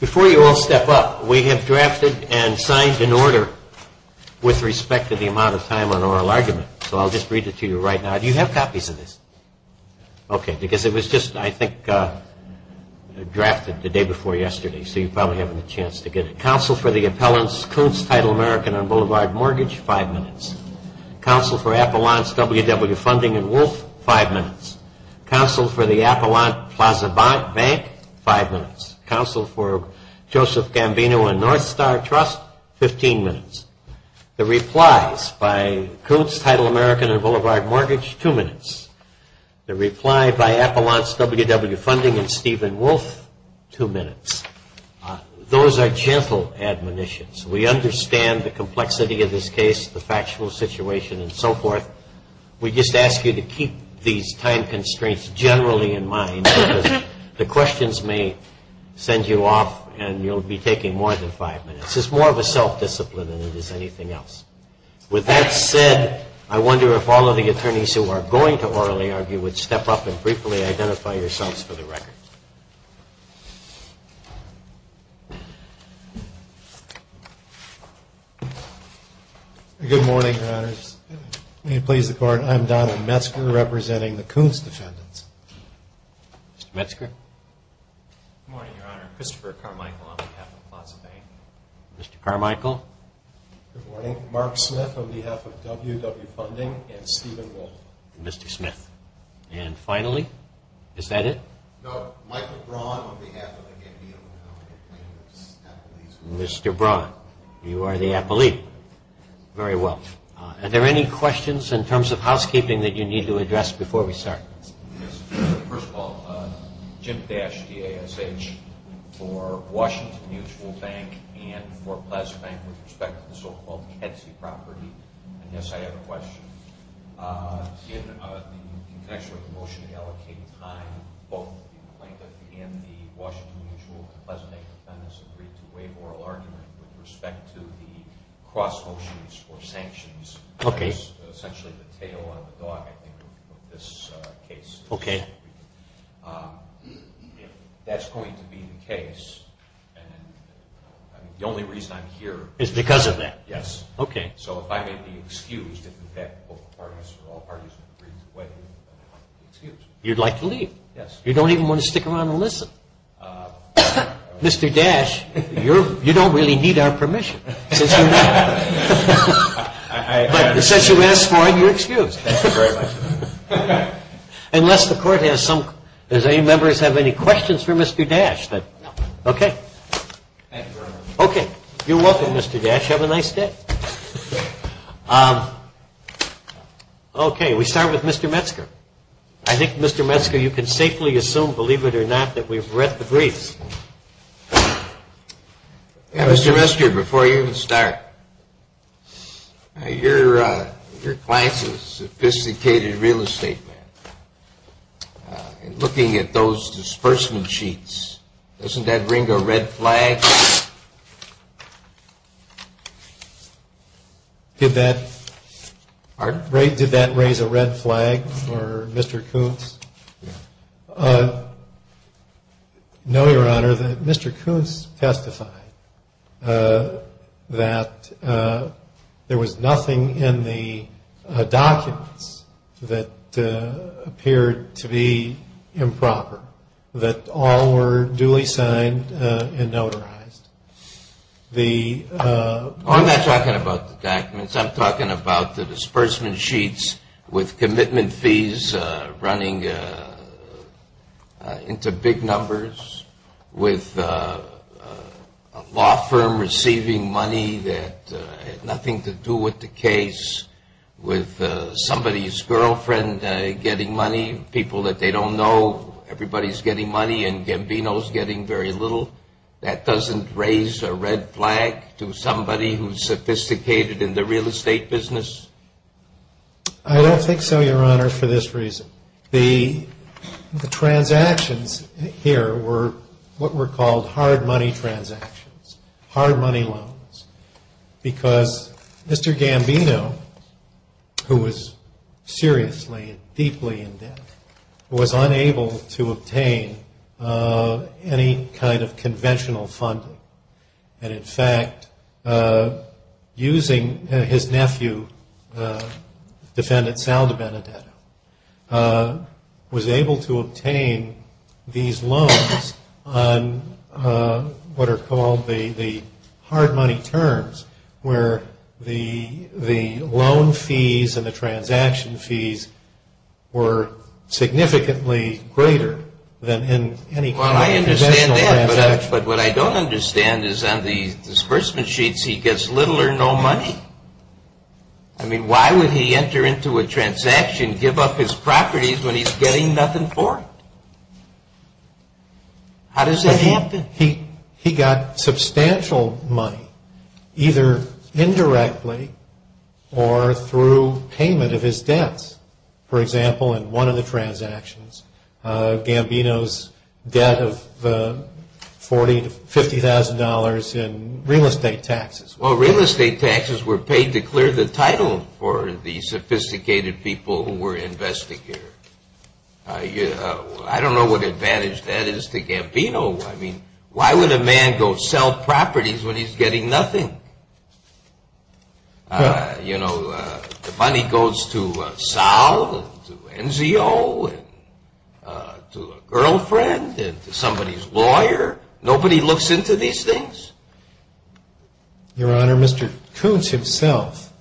Before you all step up, we have drafted and signed an order with respect to the amount of time on oral argument, so I'll just read it to you right now. Do you have copies of this? Okay, because it was just, I think, drafted the day before yesterday, so you probably haven't had a chance to get it. Counsel for the appellant's current title American on Boulevard Mortgage, five minutes. Counsel for Appellant's WW Funding and Wolfe, five minutes. Counsel for the Appellant Plaza Bank, five minutes. Counsel for Joseph Gambino and North Star Trust, 15 minutes. The replies by Krug's title American on Boulevard Mortgage, two minutes. The reply by Appellant's WW Funding and Stephen Wolfe, two minutes. Those are gentle admonitions. We understand the complexity of this case, the factual situation and so forth. We just ask you to keep these time constraints generally in mind because the questions may send you off and you'll be taking more than five minutes. It's more of a self-discipline than it is anything else. With that said, I wonder if all of the attorneys who are going to orally argue would step up and briefly identify yourselves for the record. Good morning, Your Honors. Let me please report I'm Donald Metzger representing the Coons Defendant. Mr. Metzger. Good morning, Your Honor. Christopher Carmichael on the Appellant Plaza Bank. Mr. Carmichael. Good morning. Mark Smith on behalf of WW Funding and Stephen Wolfe. Mr. Smith. And finally, is that it? No. Michael Braun on behalf of the NPO. Mr. Braun, you are the appellee. Very well. Are there any questions in terms of housekeeping that you need to address before we start? Yes. First of all, Jim Dasch, D-A-S-H, for Washington Mutual Bank and for Plaza Bank with respect to the so-called Etsy property. Yes, I have a question. Given the nature of the motion to allocate time, both at the end of the Washington Mutual and the Plaza Bank defendants would be way more alert with respect to the cross motions for sanctions. Okay. That is essentially the tail end of the thought, I think, of this case. Okay. If that's going to be the case, the only reason I'm here... Is because of that. Yes. Okay. So if I may be excused, in effect, both parties... You'd like to leave? Yes. You don't even want to stick around and listen? Mr. Dasch, you don't really need our permission. Since you asked for it, you're excused. Thank you very much. Unless the court has some... Does any members have any questions for Mr. Dasch? No. Okay. Thank you very much. Okay. You're welcome, Mr. Dasch. Thank you very much. Have a nice day. Okay. We start with Mr. Metzger. I think, Mr. Metzger, you can safely assume, believe it or not, that we've read the brief. Mr. Metzger, before you even start, your client is a sophisticated real estate man. Looking at those disbursement sheets, doesn't that bring a red flag? Did that... Pardon? Did that raise a red flag for Mr. Koontz? Yes. No, Your Honor. Mr. Koontz testified that there was nothing in the documents that appeared to be improper, that all were duly signed and notarized. I'm not talking about the documents. I'm talking about the disbursement sheets with commitment fees running into big numbers, with a law firm receiving money that had nothing to do with the case, with somebody's girlfriend getting money, people that they don't know, everybody's getting money and Gambino's getting very little. That doesn't raise a red flag to somebody who's sophisticated in the real estate business? I don't think so, Your Honor, for this reason. The transactions here were what were called hard money transactions, hard money loans, because Mr. Gambino, who was seriously and deeply in debt, was unable to obtain any kind of conventional funding. And, in fact, using his nephew, Defendant Salva Benedetto, was able to obtain these loans on what are called the hard money terms, where the loan fees and the transaction fees were significantly greater than any conventional assets. Well, I understand that, but what I don't understand is on the disbursement sheets he gets little or no money. I mean, why would he enter into a transaction, give up his properties when he's getting nothing for it? How does that happen? He got substantial money, either indirectly or through payment of his debts. For example, in one of the transactions, Gambino's debt of $40,000 to $50,000 in real estate taxes. Well, real estate taxes were paid to clear the title for the sophisticated people who were investigating. I don't know what advantage that is to Gambino. I mean, why would a man go sell properties when he's getting nothing? You know, the money goes to Sal, to NCO, to a girlfriend, to somebody's lawyer. Nobody looks into these things. Your Honor, Mr. Koontz himself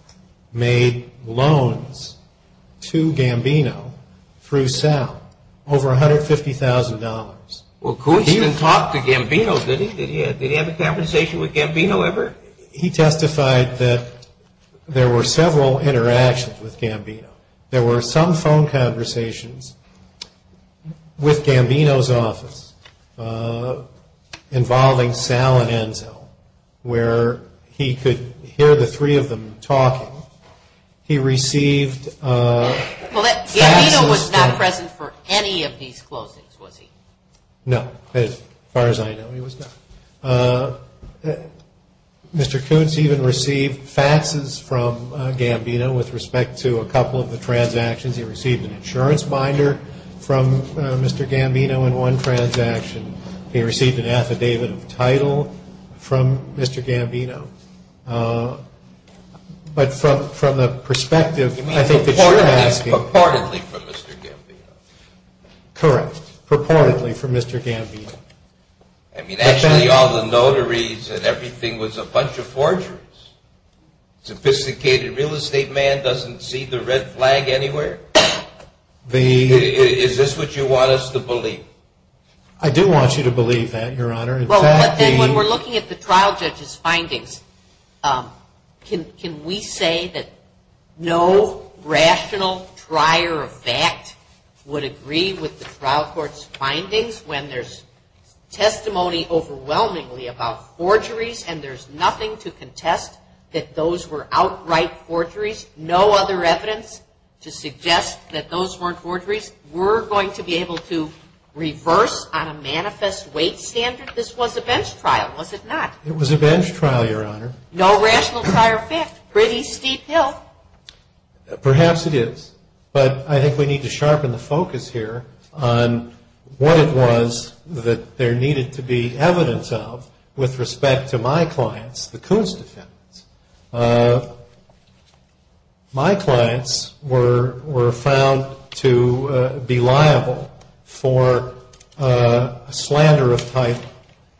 made loans to Gambino through Sal, over $150,000. Well, Koontz didn't talk to Gambino, did he? Did he have a conversation with Gambino ever? He testified that there were several interactions with Gambino. There were some phone conversations with Gambino's office involving Sal and NCO, where he could hear the three of them talking. He received... Well, Gambino was not present for any of these closings, was he? No, as far as I know, he was not. Mr. Koontz even received faxes from Gambino with respect to a couple of the transactions. He received an insurance binder from Mr. Gambino in one transaction. He received an affidavit of title from Mr. Gambino. But from the perspective... Purportedly from Mr. Gambino. Correct. Purportedly from Mr. Gambino. I mean, actually all the notaries and everything was a bunch of forgeries. Sophisticated real estate man doesn't see the red flag anywhere. Is this what you want us to believe? I do want you to believe that, Your Honor. Well, and when we're looking at the trial judge's findings, can we say that no rational prior fact would agree with the trial court's findings when there's testimony overwhelmingly about forgeries and there's nothing to contest that those were outright forgeries? No other evidence to suggest that those weren't forgeries? We're going to be able to reverse on a manifest weight standard? This was a bench trial, was it not? It was a bench trial, Your Honor. No rational prior fact. Pretty steep hill. Perhaps it is. But I think we need to sharpen the focus here on what it was that there needed to be evidence of with respect to my clients, the Kuznicki. My clients were found to be liable for slander of type.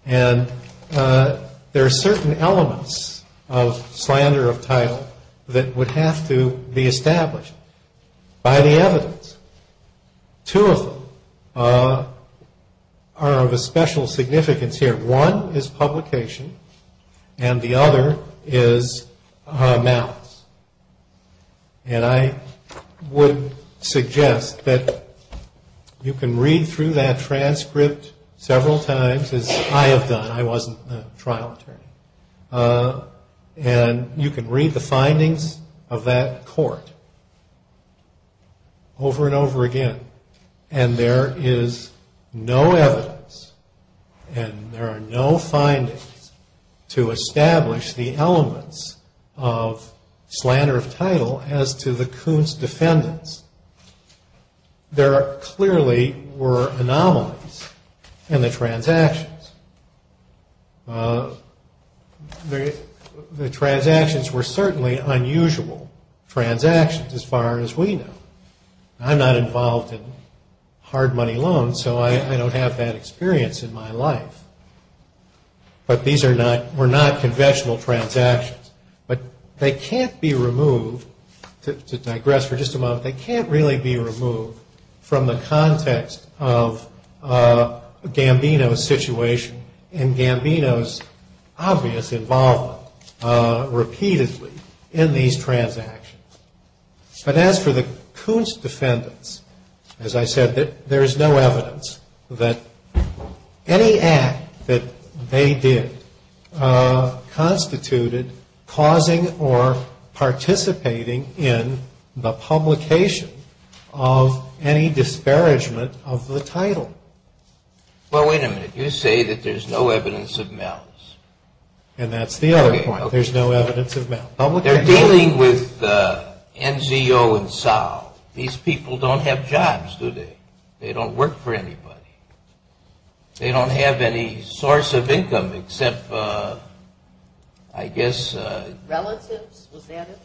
And there are certain elements of slander of type that would have to be established by the evidence. Two of them are of a special significance here. One is publication and the other is malice. And I would suggest that you can read through that transcript several times, as I have done. I wasn't a trial attorney. And you can read the findings of that court over and over again. And there is no evidence and there are no findings to establish the elements of slander of title as to the Kuznicki's defendants. There clearly were anomalies in the transactions. The transactions were certainly unusual transactions as far as we know. I'm not involved in hard money loans, so I don't have that experience in my life. But these were not conventional transactions. But they can't be removed, to digress for just a moment, they can't really be removed from the context of Gambino's situation and Gambino's obvious involvement repeatedly in these transactions. But as for the Kuznicki's defendants, as I said, there is no evidence that any act that they did constituted causing or participating in the publication of any disparagement of the title. Well, wait a minute. You say that there's no evidence of malice. And that's the other point. There's no evidence of malice. They're dealing with Enzo and Sal. These people don't have jobs, do they? They don't work for anybody. They don't have any source of income except, I guess, relatives.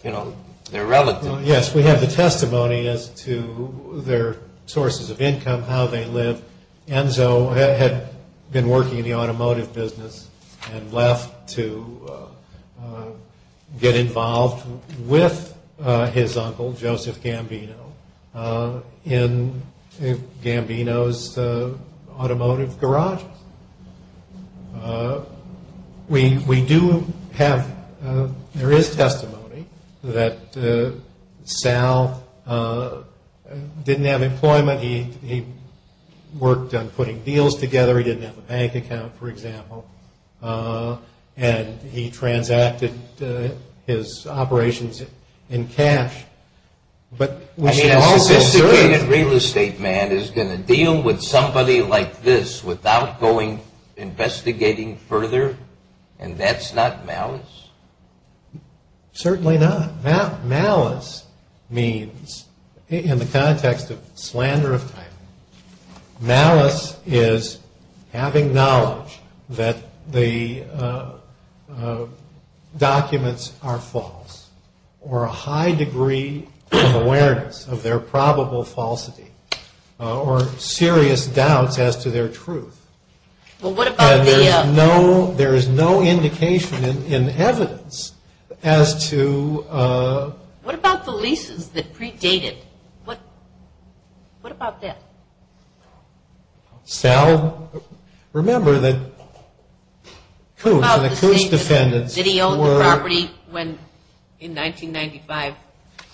Yes, we have the testimony as to their sources of income, how they live. Enzo had been working in the automotive business and left to get involved with his uncle, Joseph Gambino, in Gambino's automotive garage. We do have, there is testimony that Sal didn't have employment. He worked on putting deals together. He didn't have a bank account, for example. And he transacted his operations in cash. But we have testimony that a real estate man is going to deal with somebody like this without going investigating further, and that's not malice? Certainly not. Malice means, in the context of slander of fact, malice is having knowledge that the documents are false, or a high degree of awareness of their probable falsity, or serious doubts as to their truth. Well, what about the... There is no indication in evidence as to... What about the leases that Preet dated? What about that? Sal, remember that Coos and the Coos defendants were... Did he own the property when, in 1995,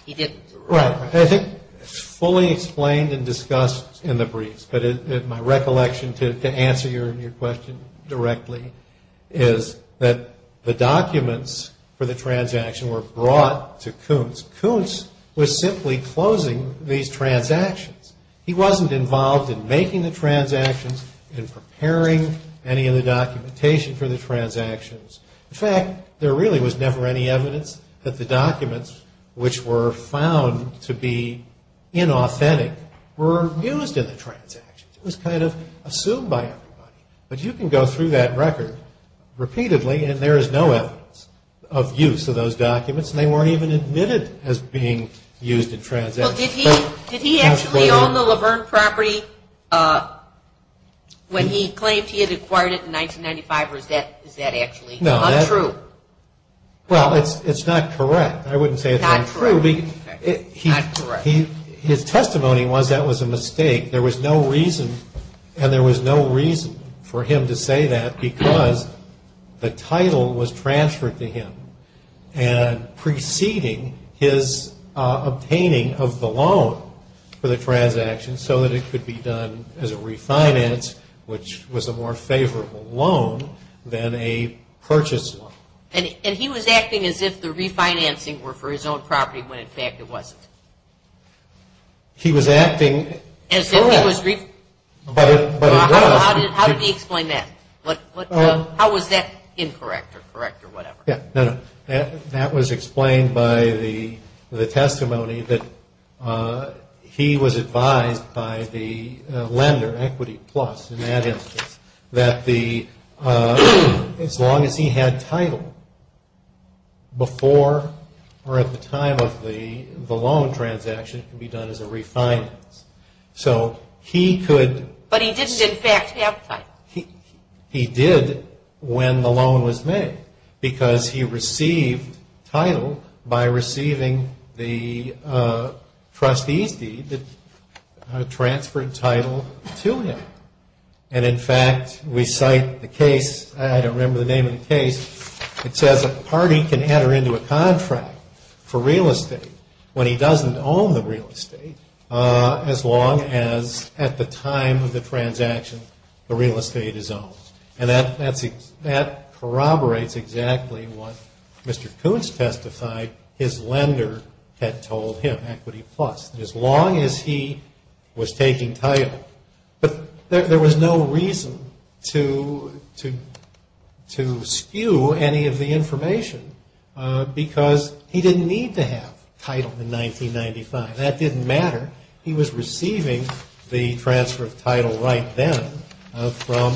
he did? Right. It's fully explained and discussed in the briefs, but my recollection, to answer your question directly, is that the documents for the transaction were brought to Coos. Coos was simply closing these transactions. He wasn't involved in making the transactions, in preparing any of the documentation for the transactions. In fact, there really was never any evidence that the documents, which were found to be inauthentic, were used in the transactions. It was kind of assumed by everyone. But you can go through that record repeatedly, and there is no evidence of use of those documents, and they weren't even admitted as being used in transactions. Did he actually own the Laverne property when he claimed he had acquired it in 1995, or is that actually untrue? Well, it's not correct. I wouldn't say it's not true. It's not correct. His testimony was that was a mistake. There was no reason, and there was no reason for him to say that, because the title was transferred to him, and preceding his obtaining of the loan for the transaction, so that it could be done as a refinance, which was a more favorable loan than a purchase one. And he was acting as if the refinancing were for his own property when in fact it wasn't. He was acting as if he was refinancing. How did he explain that? How was that incorrect or correct or whatever? That was explained by the testimony that he was advised by the lender, Equity Plus in that instance, that as long as he had title, before or at the time of the loan transaction, it could be done as a refinance. So he could... But he didn't in fact have title. He did when the loan was made, because he received title by receiving the trustee deed that transferred title to him. And in fact, we cite the case. I don't remember the name of the case. It says a party can enter into a contract for real estate when he doesn't own the real estate, as long as at the time of the transaction, the real estate is owned. And that corroborates exactly what Mr. Koontz testified his lender had told him, Equity Plus. As long as he was taking title. But there was no reason to skew any of the information, because he didn't need to have title in 1995. That didn't matter. He was receiving the transfer of title right then from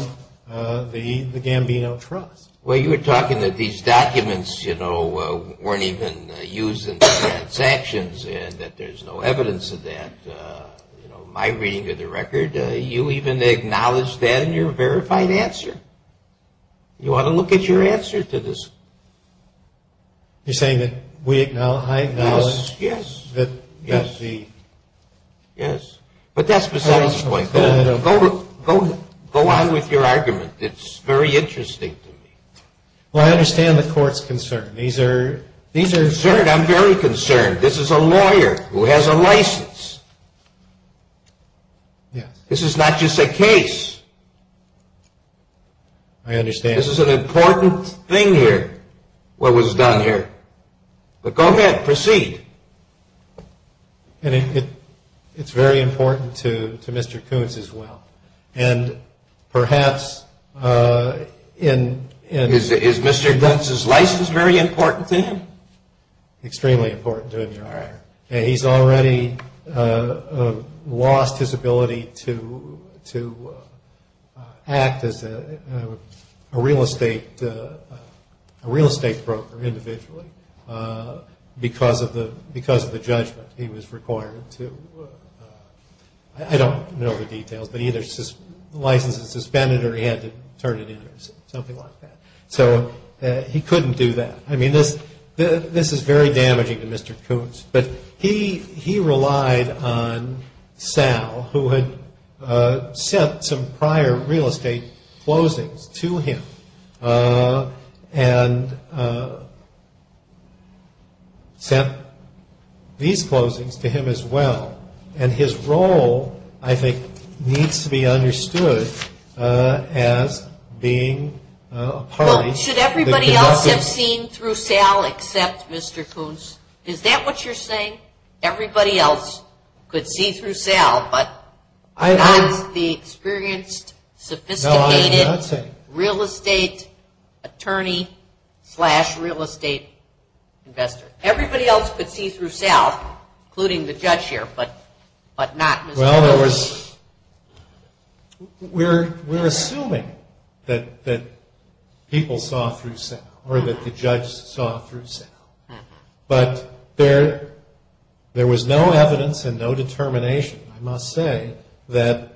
the Gambiano Trust. Well, you were talking that these documents, you know, weren't even used in the transactions, and that there's no evidence of that. You know, my reading of the record, you even acknowledged that in your verified answer. You ought to look at your answer to this. You're saying that we acknowledge... Yes. Yes. Yes. Yes. But that's besides the point. Go on with your argument. It's very interesting to me. Well, I understand the court's concern. These are... These are concerns. I'm very concerned. This is a lawyer who has a license. Yes. This is not just a case. I understand. This is an important thing here, what was done here. But go ahead. Proceed. It's very important to Mr. Koontz as well. And perhaps in... Is Mr. Koontz's license very important to him? Extremely important to him. All right. And he's already lost his ability to act as a real estate broker individually because of the judgment he was required to... I don't know the details, but either his license was suspended or he had to turn it in or something like that. So he couldn't do that. I mean, this is very damaging to Mr. Koontz. But he relied on Sal, who had sent some prior real estate closings to him and sent these closings to him as well. And his role, I think, needs to be understood as being a party. Well, should everybody else have seen through Sal except Mr. Koontz? Is that what you're saying? Everybody else could see through Sal, but I'm the experienced, sophisticated... No, I did not say that. ...real estate attorney slash real estate investor. Everybody else could see through Sal, including the judge here, but not Mr. Koontz. Well, we're assuming that people saw through Sal or that the judge saw through Sal. But there was no evidence and no determination, I must say, that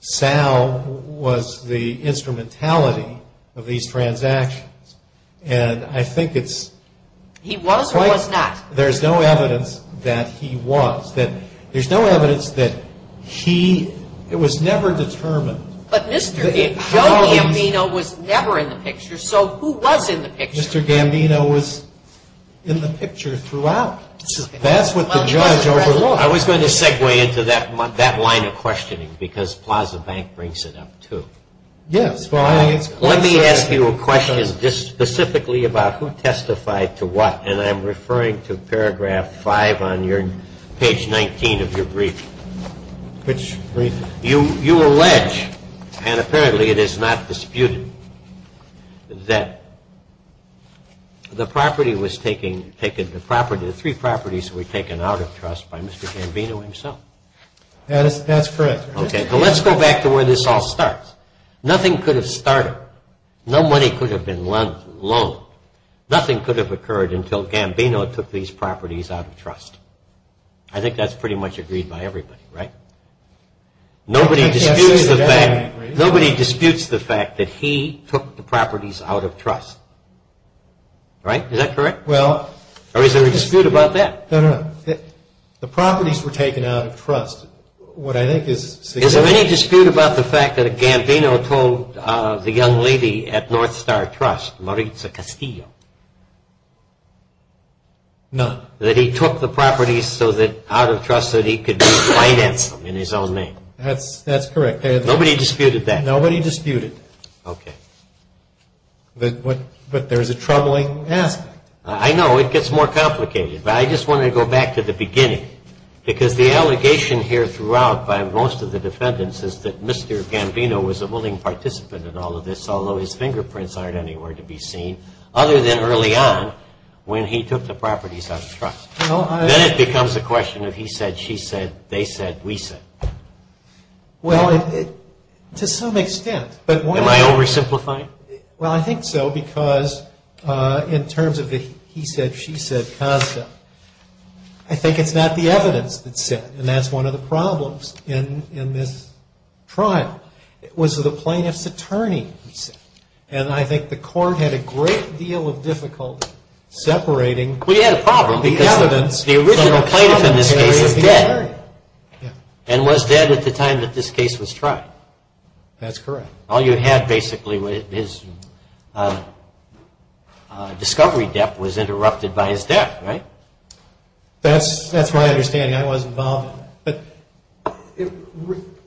Sal was the instrumentality of these transactions. And I think it's quite... He was or was not? There's no evidence that he was. There's no evidence that he was never determined. But Mr. Gambino was never in the picture, so who was in the picture? Mr. Gambino was in the picture throughout. That's what the judge already was. I was going to segue into that line of questioning because Plaza Bank brings it up too. Yes. Let me ask you a question just specifically about who testified to what, and I'm referring to paragraph 5 on page 19 of your brief. Which brief? You allege, and apparently it is not disputed, that the property was taken... The three properties were taken out of trust by Mr. Gambino himself. That's correct. Okay, so let's go back to where this all starts. Nothing could have started. No money could have been loaned. Nothing could have occurred until Gambino took these properties out of trust. I think that's pretty much agreed by everybody, right? Nobody disputes the fact that he took the properties out of trust. Right? Is that correct? Well... Or is there a dispute about that? No, no. The properties were taken out of trust. What I think is significant... Gambino told the young lady at North Star Trust, Maritza Castillo... No. ...that he took the properties out of trust so that he could finance them in his own name. That's correct. Nobody disputed that? Nobody disputed it. Okay. But there is a troubling aspect. I know. It gets more complicated. But I just wanted to go back to the beginning because the allegation here throughout by most of the defendants is that Mr. Gambino was a willing participant in all of this, although his fingerprints aren't anywhere to be seen, other than early on when he took the properties out of trust. Then it becomes a question of he said, she said, they said, we said. Well, to some extent. Am I oversimplifying? Well, I think so because in terms of the he said, she said concept, I think it's not the evidence that's it. And that's one of the problems in this trial. It was with a plaintiff's attorney. And I think the court had a great deal of difficulty separating... We had a problem because the original plaintiff in this case was dead. And was dead at the time that this case was tried. That's correct. All you had basically was his discovery debt was interrupted by his death, right? That's what I understand. I wasn't involved. But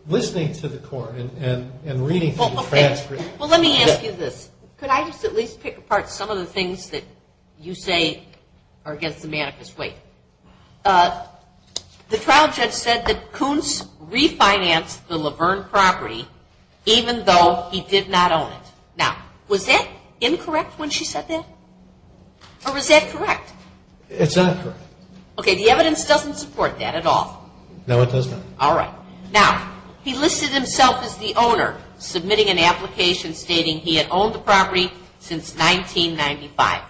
listening to the court and reading through the transcript... Well, let me ask you this. Could I just at least pick apart some of the things that you say are against the manifest way? The trial judge said that Kuntz refinanced the Laverne property even though he did not own it. Now, was that incorrect when she said that? Or was that correct? It's not correct. Okay, the evidence doesn't support that at all. No, it doesn't. All right. Now, he listed himself as the owner, submitting an application stating he had owned the property since 1995.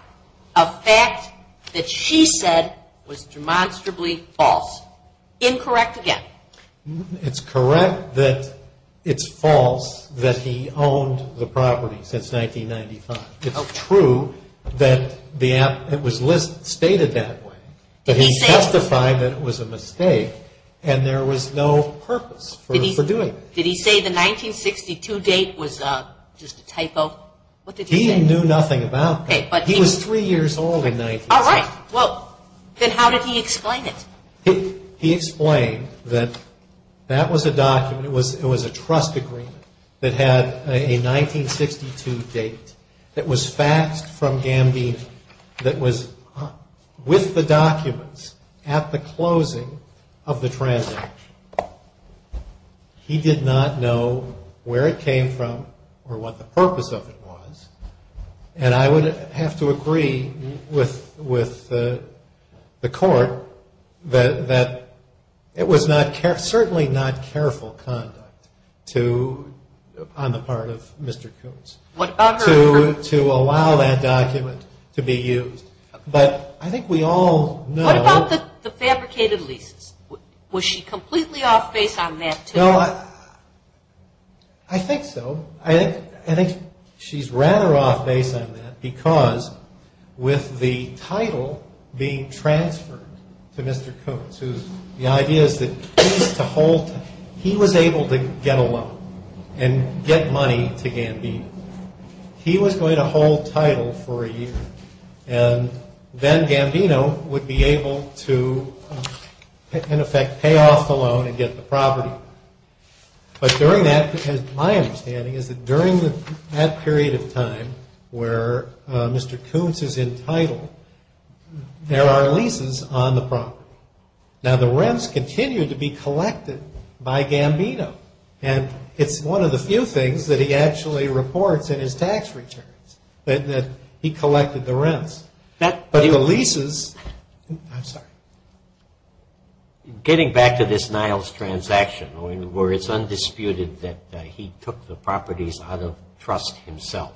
A fact that she said was demonstrably false. Incorrect again. It's correct that it's false that he owned the property since 1995. It's true that it was listed, stated that way. But he testified that it was a mistake and there was no purpose for doing it. Did he say the 1962 date was just a typo? He knew nothing about that. He was three years old in 19... All right. Well, then how did he explain it? He explained that that was a document. It was a trust agreement that had a 1962 date that was faxed from Gambino that was with the documents at the closing of the transaction. He did not know where it came from or what the purpose of it was. And I would have to agree with the court that it was certainly not careful conduct on the part of Mr. Jones to allow that document to be used. But I think we all know... What about the fabricated lease? Was she completely off base on that? I think so. I think she's rather off base on that because with the title being transferred to Mr. Cooks, the idea is that he was able to get a loan and get money to Gambino. He was going to hold title for a year and then Gambino would be able to, in effect, pay off the loan and get the property. But during that, and it's my understanding, is that during that period of time where Mr. Cooks is entitled, there are leases on the property. Now the rents continue to be collected by Gambino and it's one of the few things that he actually reports in his tax return that he collected the rents. But the leases... I'm sorry. Getting back to this Niles transaction where it's undisputed that he took the properties out of trust himself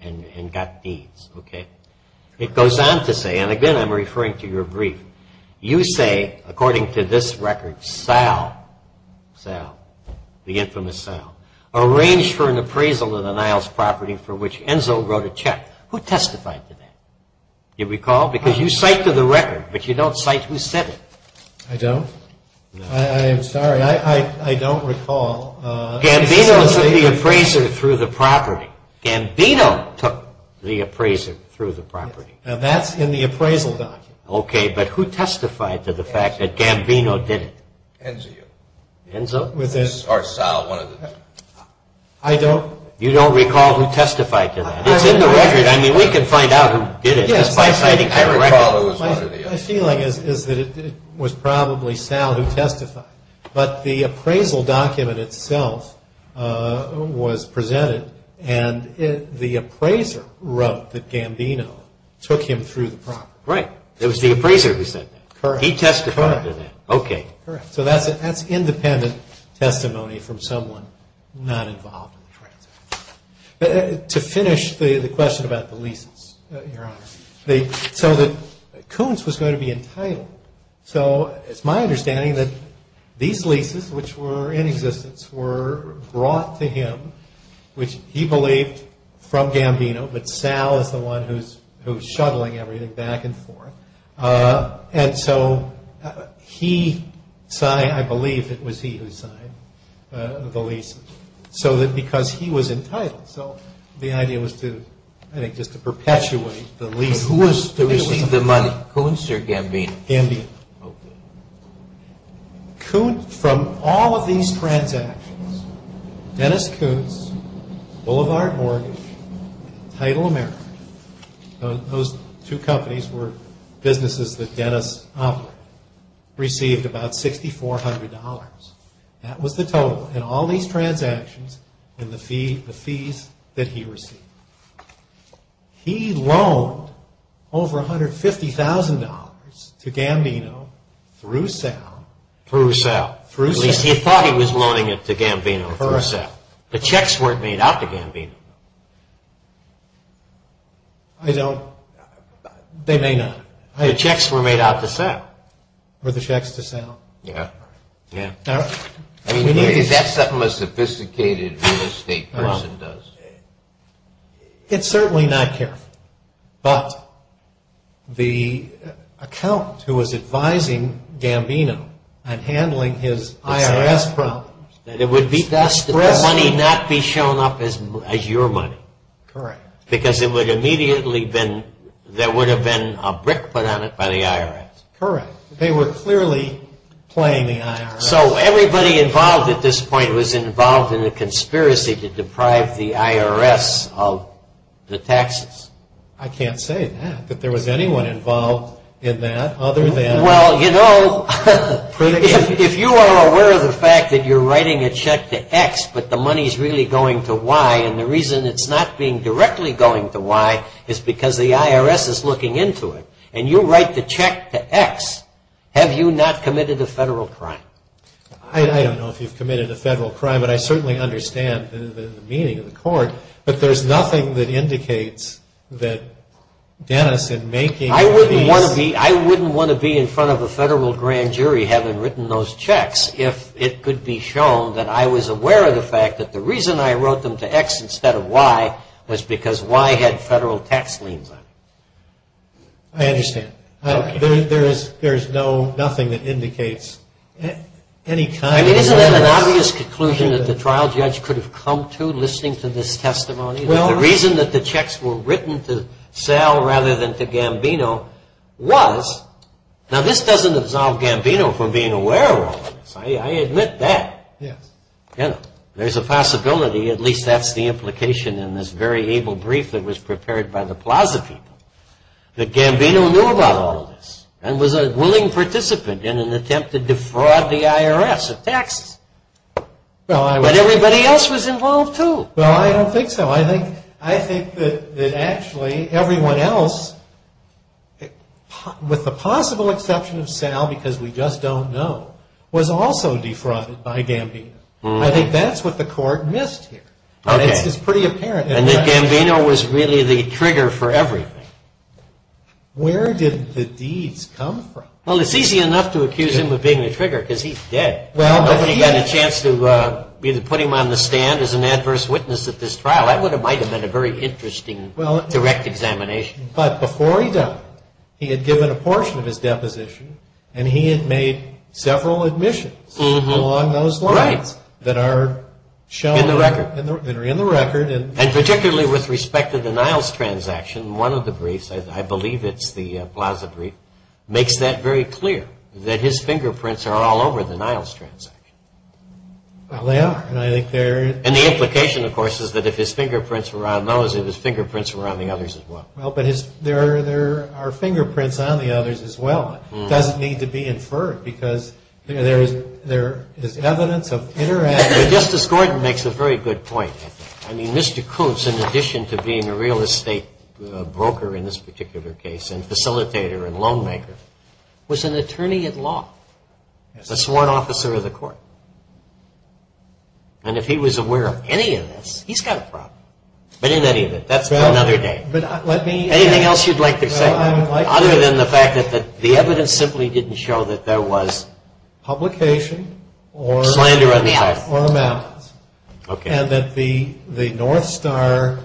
and got deeds. It goes on to say, and again I'm referring to your brief, you say, according to this record, Sal, the infamous Sal, arranged for an appraisal of the Niles property for which Enzo wrote a check. Who testified to that? Do you recall? Because you cite to the record, but you don't cite who said it. I don't. I'm sorry. I don't recall. Gambino took the appraisal through the property. Gambino took the appraisal through the property. Now that's in the appraisal document. Okay, but who testified to the fact that Gambino did it? Enzo. Enzo? I don't... You don't recall who testified to that? It's in the record. It's in the record. I mean, we can find out who did it. Yes, I think I recall who testified. My feeling is that it was probably Sal who testified, but the appraisal document itself was presented and the appraiser wrote that Gambino took him through the property. Right. It was the appraiser who said that. Correct. He testified to that. Okay. Correct. So that's independent testimony from someone not involved in the transaction. To finish the question about the leases, Your Honor, so that Koontz was going to be entitled. So it's my understanding that these leases, which were in existence, were brought to him, which he believed from Gambino, that Sal is the one who's shoveling everything back and forth. And so he signed, I believe it was he who signed the leases, because he was entitled. So the idea was to, I think, just to perpetuate the leases. Who received the money? Koontz or Gambino? Gambino. Okay. Koontz, from all of these transactions, Dennis Koontz, Boulevard Mortgage, Title America, those two companies were businesses that Dennis offered, received about $6,400. That was the total. That was the total in all these transactions and the fees that he received. He loaned over $150,000 to Gambino through Sal. Through Sal. He thought he was loaning it to Gambino through Sal. The checks weren't made out to Gambino. I don't. They may not. The checks were made out to Sal. Were the checks to Sal? Yeah. I mean, is that something a sophisticated real estate person does? It's certainly not, Jim. But the accountant who was advising Gambino and handling his IRS problems. That the money not be shown up as your money. Correct. Because there would have been a brick put on it by the IRS. Correct. They were clearly playing the IRS. So everybody involved at this point was involved in a conspiracy to deprive the IRS of the taxes. I can't say that, that there was anyone involved in that other than. Well, you know, if you are aware of the fact that you're writing a check to X, but the money is really going to Y, and the reason it's not being directly going to Y is because the IRS is looking into it. And you write the check to X. Have you not committed a federal crime? I don't know if you've committed a federal crime, but I certainly understand the meaning of the court. But there's nothing that indicates that Dennis had making. I wouldn't want to be in front of a federal grand jury having written those checks if it could be shown that I was aware of the fact that the reason I wrote them to X instead of Y was because Y had federal tax liens on it. I understand. There's nothing that indicates any kind of... Isn't that an obvious conclusion that the trial judge could have come to, listening to this testimony? The reason that the checks were written to Sal rather than to Gambino was... Now, this doesn't absolve Gambino from being aware of it. I admit that. There's a possibility, at least that's the implication in this very able brief that was prepared by the Plaza people, that Gambino knew about all of this and was a willing participant in an attempt to defraud the IRS of taxes. But everybody else was involved too. Well, I don't think so. I think that actually everyone else, with the possible exception of Sal, because we just don't know, was also defrauded by Gambino. I think that's what the court missed here. And that Gambino was really the trigger for everything. Where did the disease come from? Well, it's easy enough to accuse him of being the trigger because he's dead. Nobody had a chance to either put him on the stand as an adverse witness at this trial. That might have been a very interesting direct examination. But before he died, he had given a portion of his deposition and he had made several admissions along those lines that are shown in the record. And particularly with respect to the Niles transaction, one of the briefs, I believe it's the Plaza brief, makes that very clear that his fingerprints are all over the Niles transaction. Well, they are. And the implication, of course, is that if his fingerprints were on those, his fingerprints were on the others as well. Well, but there are fingerprints on the others as well. It doesn't need to be inferred because there is evidence of interaction. Justice Gordon makes a very good point. I mean, Mr. Coates, in addition to being a real estate broker in this particular case and facilitator and loan maker, was an attorney at law. That's one officer of the court. And if he was aware of any of this, he's got a problem. But in any event, that's for another day. Anything else you'd like to say? Other than the fact that the evidence simply didn't show that there was... Publication or... Slander of the house. And that the North Star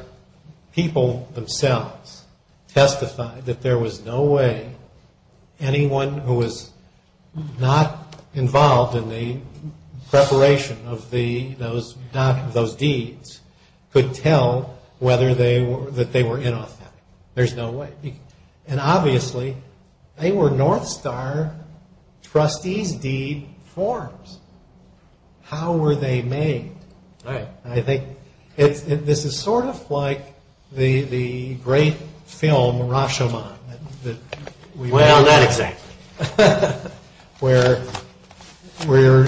people themselves testified that there was no way anyone who was not involved in the separation of those deeds could tell whether they were in or out. There's no way. And obviously, they were North Star trustee deed forms. How were they made? I think this is sort of like the great film Rashomon. Well, not exactly. Where we're...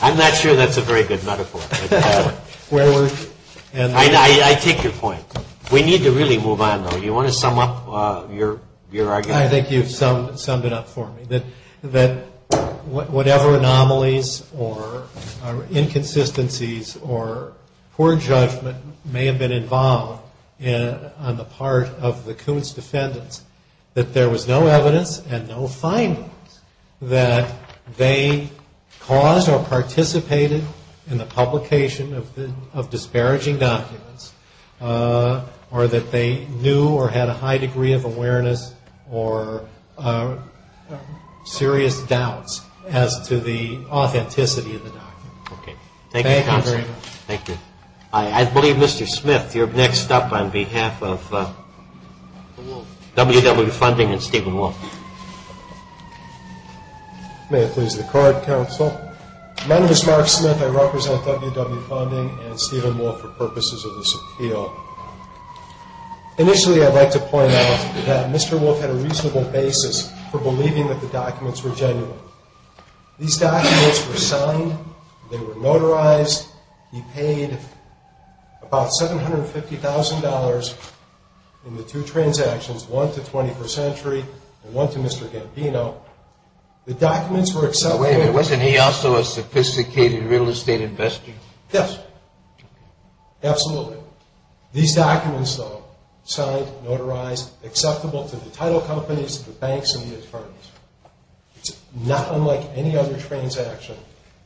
I'm not sure that's a very good metaphor. Where we're... I take your point. We need to really move on, though. Do you want to sum up your argument? I think you've summed it up for me. That whatever anomalies or inconsistencies or poor judgment may have been involved on the part of the Coates defendants, that there was no evidence and no findings that they caused or participated in the publication of disparaging documents or that they knew or had a high degree of awareness or serious doubts as to the authenticity of the documents. Okay. Thank you very much. Thank you. I believe Mr. Smith, you're next up on behalf of W.W. Funding and Stephen Wolfe. May I please record, counsel? My name is Mark Smith. I represent W.W. Funding and Stephen Wolfe for purposes of this appeal. Initially, I'd like to point out that Mr. Wolfe had a reasonable basis for believing that the documents were genuine. These documents were signed. They were notarized. He paid about $750,000 in the two transactions, one to 21st Century and one to Mr. Gardino. The documents were accepted. Wait a minute. Wasn't he also a sophisticated real estate investor? Absolutely. These documents, though, signed, notarized, acceptable to the title companies, the banks, and the attorneys. It's not unlike any other transaction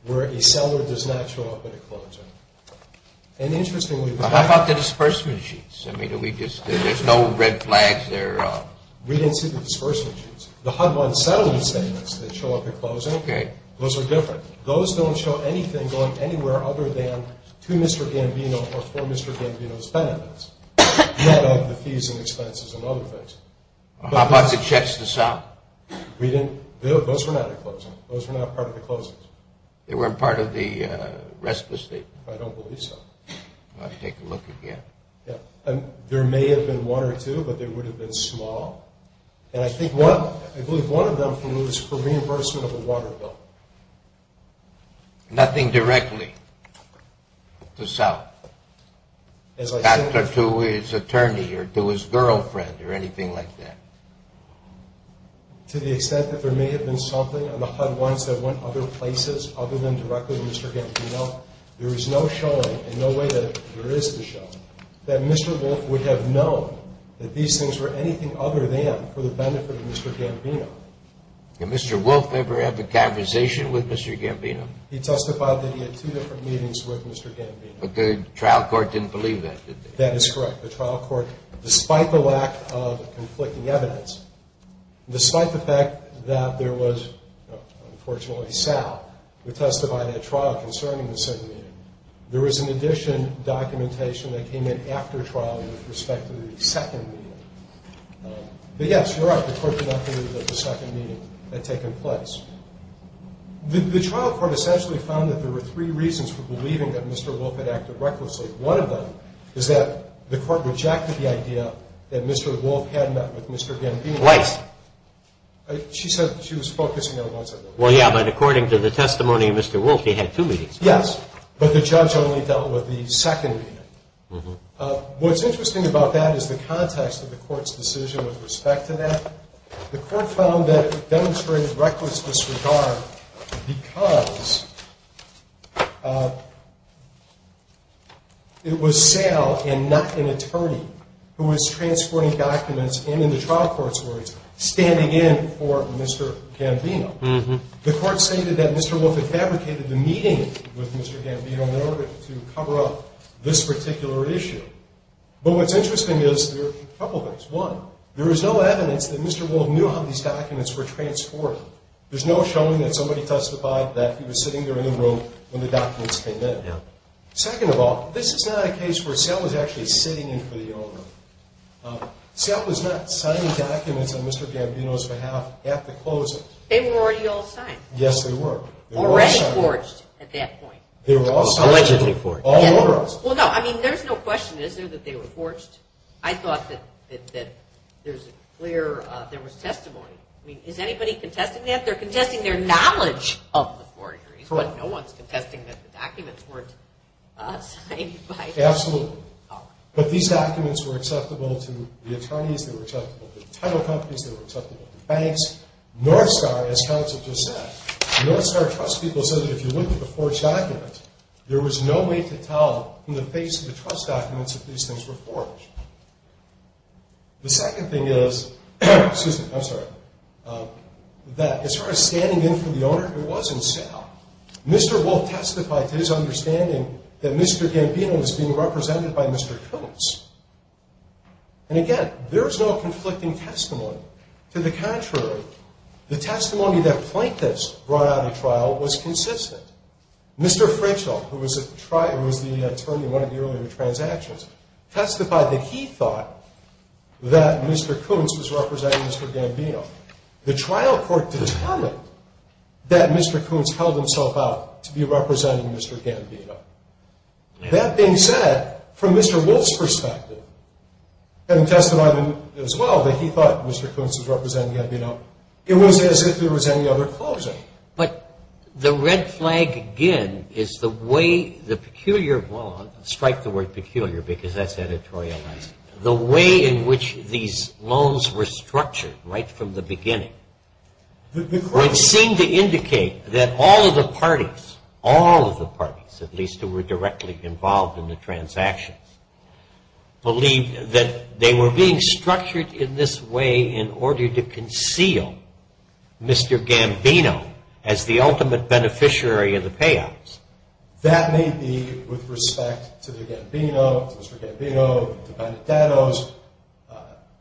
where a seller does not show up at a closing. And interestingly... How about the disbursement sheets? I mean, did we just... There's no red flags there. We didn't see the disbursement sheets. The HUD bond settlement statements that show up at closing, those are different. Those don't show anything going anywhere other than to Mr. Gardino or for Mr. Gardino's benefits, let alone the fees and expenses and other things. How about the checks to South? Those were not at closing. Those were not part of the closings. They weren't part of the rest of the statement? I don't believe so. I'll have to take a look again. There may have been one or two, but they would have been small. And I believe one of them was for reimbursement of a water bill. Nothing directly to South? Not to his attorney or to his girlfriend or anything like that? To the extent that there may have been something on the HUD bonds that went other places other than directly to Mr. Gardino, there is no showing and no way that there is a showing that Mr. Wolf would have known that these things were anything other than for the benefit of Mr. Gardino. Did Mr. Wolf ever have a conversation with Mr. Gardino? He testified that he had two different meetings with Mr. Gardino. But the trial court didn't believe that, did they? That is correct. The trial court, despite the lack of conflicting evidence, despite the fact that there was, unfortunately, South, who testified at the trial concerning the second meeting, there was an addition documentation that came in after trial with respect to the second meeting. But yes, you're right. The trial court did not believe that the second meeting had taken place. The trial court essentially found that there were three reasons for believing that Mr. Wolf had acted recklessly. One of them is that the court rejected the idea that Mr. Wolf had met with Mr. Gardino. Twice. She said she was focusing on once or twice. Well, yeah, but according to the testimony of Mr. Wolf, he had two meetings. Yes, but the judge only dealt with the second meeting. What's interesting about that is the context of the court's decision with respect to that. The court found that it demonstrated reckless disregard because it was jail and not an attorney who was transferring documents in the trial court's words, standing in for Mr. Gardino. The court stated that Mr. Wolf had advocated the meeting with Mr. Gardino in order to cover up this particular issue. But what's interesting is there are a couple of things. First of all, Mr. Wolf knew how these documents were transported. There's no showing that somebody else survived that. He was sitting there anyway when the documents came in. Second of all, this is not a case where Scott was actually sitting in for the owner. Scott was not signing documents on Mr. Gardino's behalf after closing. They were already all signed. Yes, they were. Already forged at that point. They were all signed. All were. Well, no, I mean, there's no question, is there, that they were forged? I thought that there's a clear, there was testimony. Is anybody contesting that? They're contesting their knowledge of the forgery. Correct. But no one's contesting that the documents were signed by Mr. Gardino. Absolutely. But these documents were acceptable to the attorneys, they were acceptable to the title companies, they were acceptable to the banks. Northstar, as Charles has just said, Northstar Trust people said that if you look at the forged documents, there was no way to tell from the face of the trust documents that these things were forged. The second thing is, excuse me, I'm sorry, that as far as standing in for the owner, it was himself. Mr. Wolf testified his understanding that Mr. Gambino was being represented by Mr. Phillips. And again, there's no conflicting testimony. To the contrary, the testimony that plaintiffs brought out of trial was consistent. Mr. Frenchel, who was the attorney in one of the earlier transactions, testified that he thought that Mr. Coons was representing Mr. Gambino. The trial court did a comment that Mr. Coons held himself out to be representing Mr. Gambino. That being said, from Mr. Wolf's perspective, and testifying as well, that he thought Mr. Coons was representing Gambino, it was as if there was any other closing. But the red flag again is the way, the peculiar, well I'll strike the word peculiar because that's editorializing, the way in which these loans were structured right from the beginning, which seemed to indicate that all of the parties, all of the parties, at least who were directly involved in the transactions, believed that they were being structured in this way in order to conceal Mr. Gambino as the ultimate beneficiary of the payouts. That may be with respect to the Gambino, Mr. Gambino, Mr. Danos,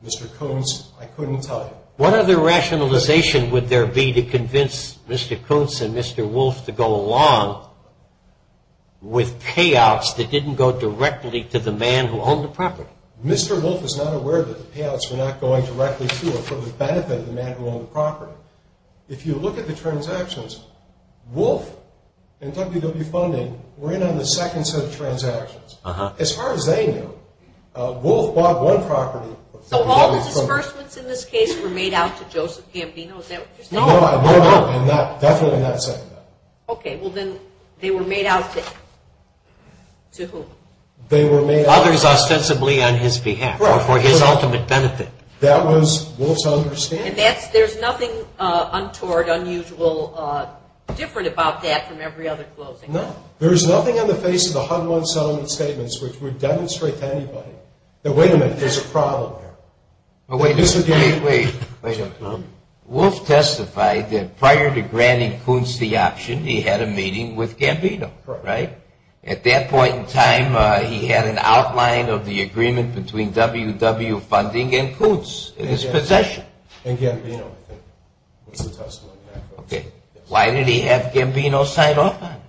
Mr. Coons, I couldn't tell you. What other rationalization would there be to convince Mr. Coons and Mr. Wolf to go along with payouts that didn't go directly to the man who owned the property? Mr. Wolf is not aware that the payouts were not going directly to him for the benefit of the man who owned the property. If you look at the transactions, Wolf and WW Funding ran on the second set of transactions. As far as they knew, Wolf bought one property. So all of the reimbursements in this case were made out to Joseph Gambino, is that what you're saying? No, I'm not, I'm definitely not saying that. Okay, well then they were made out to whom? Others ostensibly on his behalf, for his ultimate benefit. That was Wolf's understanding. And there's nothing untoward, unusual, different about that from every other closing? No, there's nothing in the face of the Humboldt-Sullivan statements which would demonstrate anything. Now wait a minute, there's a problem here. Wait, wait, wait. Wolf testified that prior to granting Coons the option, he had a meeting with Gambino, right? At that point in time, he had an outline of the agreement between WW Funding and Coons in his possession. And Gambino. Okay, why did he have Gambino sign off on it?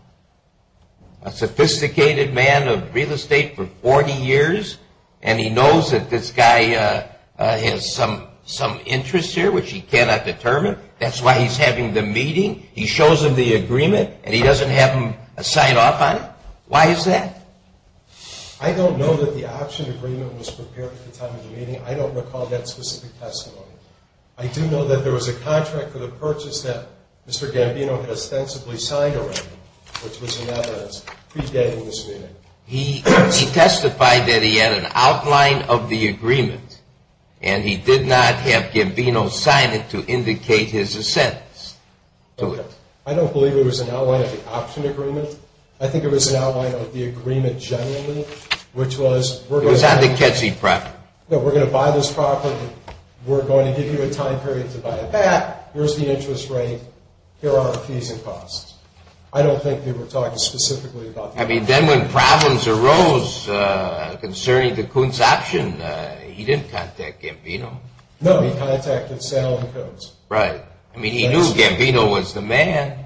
A sophisticated man of real estate for 40 years, and he knows that this guy has some interest here which he cannot determine. That's why he's having the meeting. He shows him the agreement, and he doesn't have him sign off on it. Why is that? I don't know that the option agreement was prepared at the time of the meeting. I don't recall that specific testimony. I do know that there was a contract for the purchase that Mr. Gambino had ostensibly signed already, which was a matter of pre-dating this meeting. He testified that he had an outline of the agreement, and he did not have Gambino sign it to indicate his assent. Okay. I don't believe it was an outline of the option agreement. I think it was an outline of the agreement generally, which was... It was on the Ketchy property. No, we're going to buy this property. We're going to give you a time period to buy it back. There's the interest rate. There are the fees and costs. I don't think they were talking specifically about... I mean, then when problems arose concerning the Coons option, he did contact Gambino. No, he contacted Sal and Coons. Right. I mean, he knew Gambino was the man.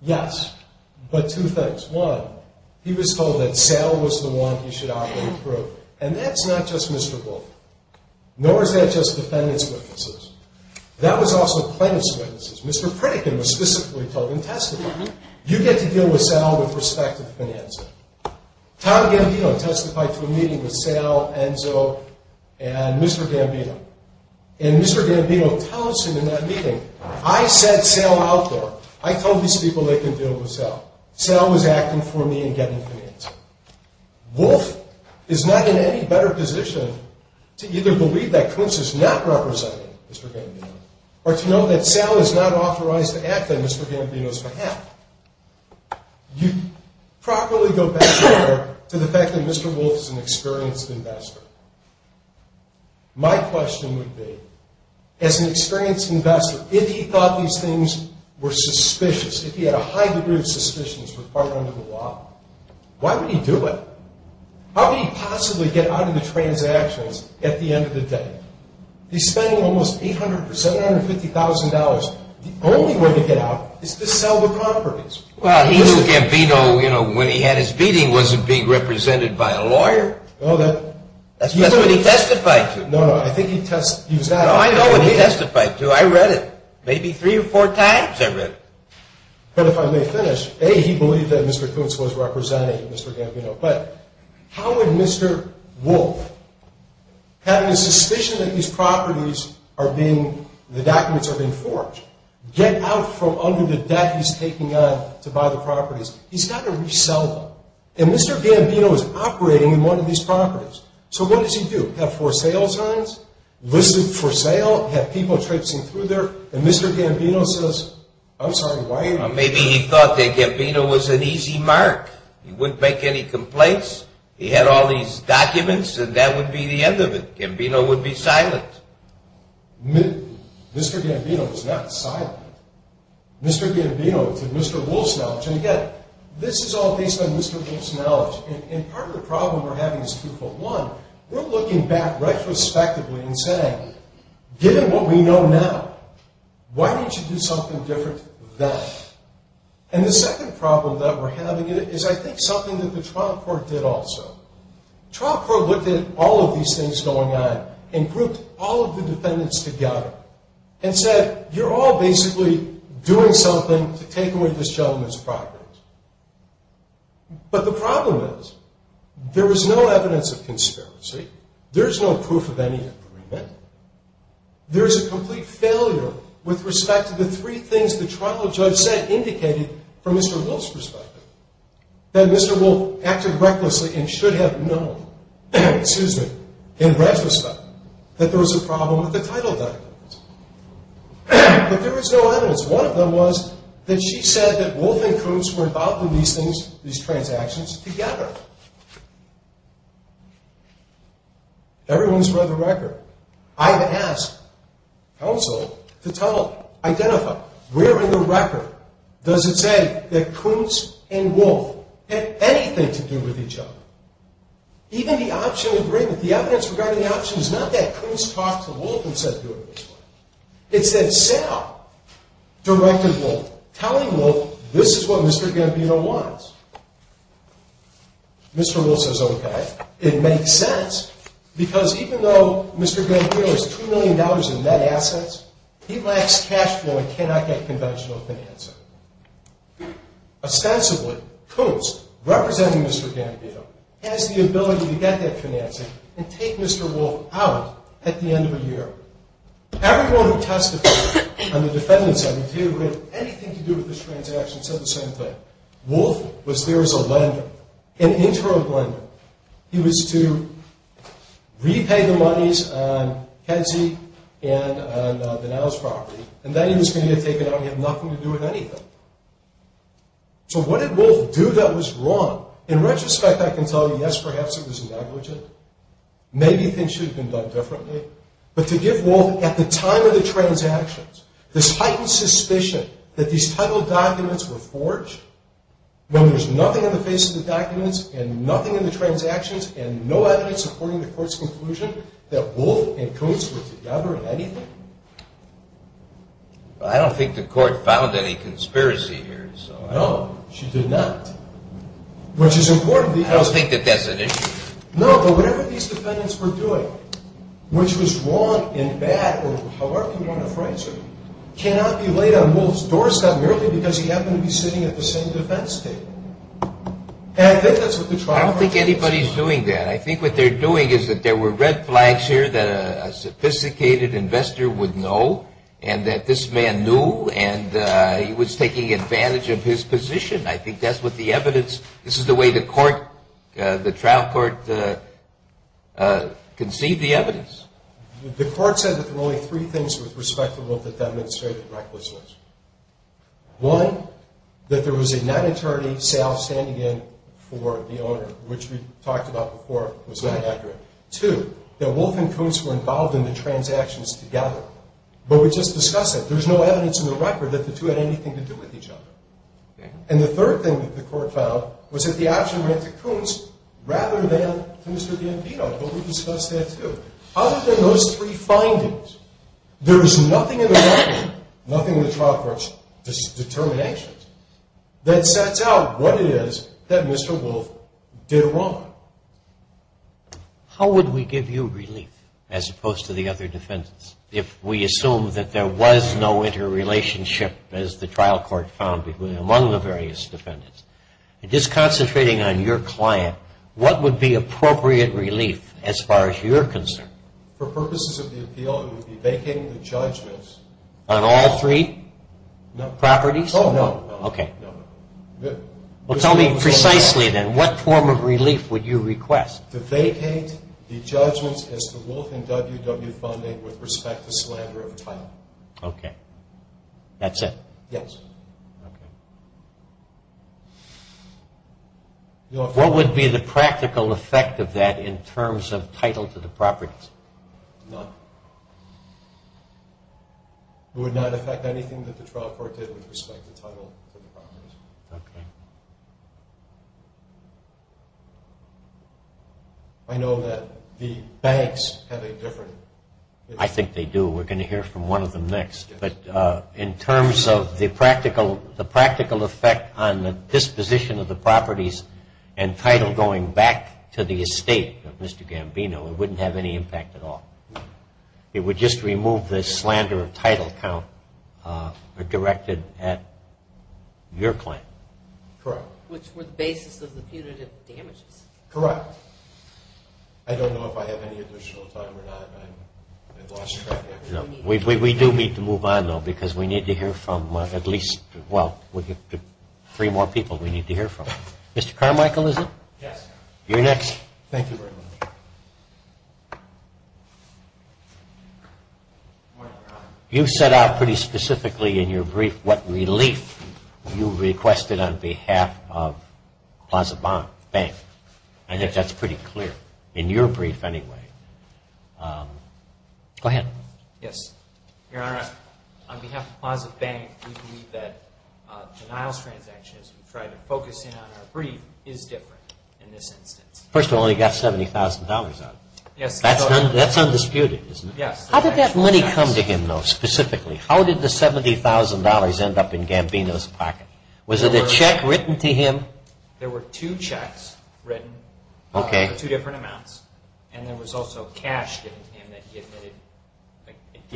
Yes, but two things. He was told that Sal was the one he should operate through, and that's not just Mr. Goldberg, nor is that just the finance witnesses. That was also the finance witnesses. Mr. Pritikin was specifically told in testimony, you get to deal with Sal with respect to the financing. How did Gambino testify to a meeting with Sal, Enzo, and Mr. Gambino? And Mr. Gambino tells him in that meeting, I said Sal outdoor. I told these people they could deal with Sal. Sal was acting for me in getting the answer. Wolf is not in any better position to either believe that Coons is not representing Mr. Gambino or to know that Sal is not authorized to act on Mr. Gambino's behalf. You properly go back there to the fact that Mr. Wolf is an experienced investor. My question would be, as an experienced investor, if he thought these things were suspicious, if he had a high degree of suspicions for following the law, why did he do it? How could he possibly get out of the transactions at the end of the day? He's spending almost $750,000. The only way to get out is to sell the properties. Well, he knew Gambino, when he had his meeting, wasn't being represented by a lawyer. No, that's not what he testified to. No, no, I think he testified. No, I know what he testified to. I read it. Maybe three or four times, I read it. But if I may finish, A, he believed that Mr. Coons was representing Mr. Gambino, but how would Mr. Wolf, having a suspicion that these properties are being, the documents are being forged, get out from under the debt he's taking on to buy the properties? He's got to resell them. And Mr. Gambino is operating one of these properties. So what does he do? He would have for sale signs, listed for sale, have people tracing through there, and Mr. Gambino says, I'm sorry, why are you doing this? Maybe he thought that Gambino was an easy mark. He wouldn't make any complaints. He had all these documents, and that would be the end of it. Gambino would be silenced. Mr. Gambino was not silenced. Mr. Gambino, Mr. Wolf's knowledge. And again, this is all based on Mr. Wolf's knowledge. And part of the problem we're having is two-fold. One, we're looking back retrospectively and saying, given what we know now, why don't you do something different then? And the second problem that we're having is, I think, something that the trial court did also. The trial court looked at all of these things going on and grouped all of the defendants together and said, you're all basically doing something to take away this gentleman's properties. But the problem is, there was no evidence of conspiracy. There's no proof of any agreement. There's a complete failure with respect to the three things the trial judge said, indicating from Mr. Wolf's perspective, that Mr. Wolf acted recklessly and should have known in retrospect that there was a problem with the title documents. But there was no evidence. One of them was that she said that Wolf and Kootz were involved in these things, these transactions, together. Everyone's read the record. I've asked counsel to identify. Where in the record does it say that Kootz and Wolf had anything to do with each other? Even the options written, the evidence regarding the options, not that Kootz talked to Wolf and said, do it this way. It said so. Director Wolf telling Wolf, this is what Mr. Gambino wants. Mr. Wolf says, OK. It makes sense, because even though Mr. Gambino has $2 million in net assets, he lacks cash flow and cannot get conventional financing. Ostensibly, Kootz, representing Mr. Gambino, has the ability to get that financing and take Mr. Wolf out at the end of the year. Everyone who testified on the defendant's end who did have anything to do with this transaction said the same thing. Wolf was there as a lender, an intro lender. He was to repay the monies on Kenzie and Vanell's property. And then he was going to get taken out. He had nothing to do with anything. So what did Wolf do that was wrong? In retrospect, I can tell you, yes, perhaps it was negligent. Maybe he thinks he would have been done differently. But to give Wolf, at the time of the transactions, this heightened suspicion that these title documents were forged, when there's nothing in the face of the documents and nothing in the transactions and no evidence supporting the court's conclusion that Wolf and Kootz were together in anything. I don't think the court found any conspiracy here. So, no, she did not. Which is important. I don't think that that's an issue. No, but whatever these defendants were doing, which was wrong in that of our command of France, cannot be laid on Wolf's doorstep merely because he happened to be sitting at the same defense table. I don't think anybody's doing that. I think what they're doing is that there were red flags here that a sophisticated investor would know and that this man knew and he was taking advantage of his position. I think that's what the evidence, this is the way the court, the trial court conceived the evidence. The court said that there were only three things with respect to what the defendants stated in that process. One, that there was a non-attorney standing in for the owner, which we talked about before. Two, that Wolf and Kootz were involved in the transactions together. But we're just discussing. There's no evidence in the record that the two had anything to do with each other. And the third thing that the court found was that the action of Kootz, rather than Mr. D'Ampito, who we discussed that too. Other than those three findings, there's nothing in the action, nothing in the trial court's determinations, that sets out what it is that Mr. Wolf did wrong. How would we give you relief, as opposed to the other defendants, if we assume that there was no interrelationship, as the trial court found among the various defendants? Just concentrating on your client, what would be appropriate relief, as far as you're concerned? For purposes of the appeal, it would be vacating the judgements. On all three properties? Oh, no. Okay. Well, tell me precisely then, what form of relief would you request? The vacate the judgements, as the Wolf and WW funding would respect the slander of the title. Okay. That's it? Yes. Okay. What would be the practical effect of that, in terms of title to the properties? None. It would not affect anything that the trial court did with respect to title to the properties. Okay. I know that the banks have a different… I think they do. We're going to hear from one of them next. But in terms of the practical effect on the disposition of the properties and title going back to the estate of Mr. Gambino, it wouldn't have any impact at all. It would just remove the slander of title count directed at your client. Correct. Which were the basis of the punitive damages. Correct. I don't know if I have any additional time or not. We do need to move on, though, because we need to hear from at least three more people we need to hear from. Mr. Carmichael, is it? Yes. You're next. Thank you very much. You set out pretty specifically in your brief what relief you requested on behalf of Closet Bank. I guess that's pretty clear. In your brief, anyway. Go ahead. Yes. Your Honor, on behalf of Closet Bank, we believe that denial transactions, trying to focus in on our brief, is different in this instance. First of all, he got $70,000. That's undisputed, isn't it? Yes. How did that money come to him, though, specifically? How did the $70,000 end up in Gambino's pocket? Was it a check written to him? There were two checks written for two different amounts. And there was also cash that he had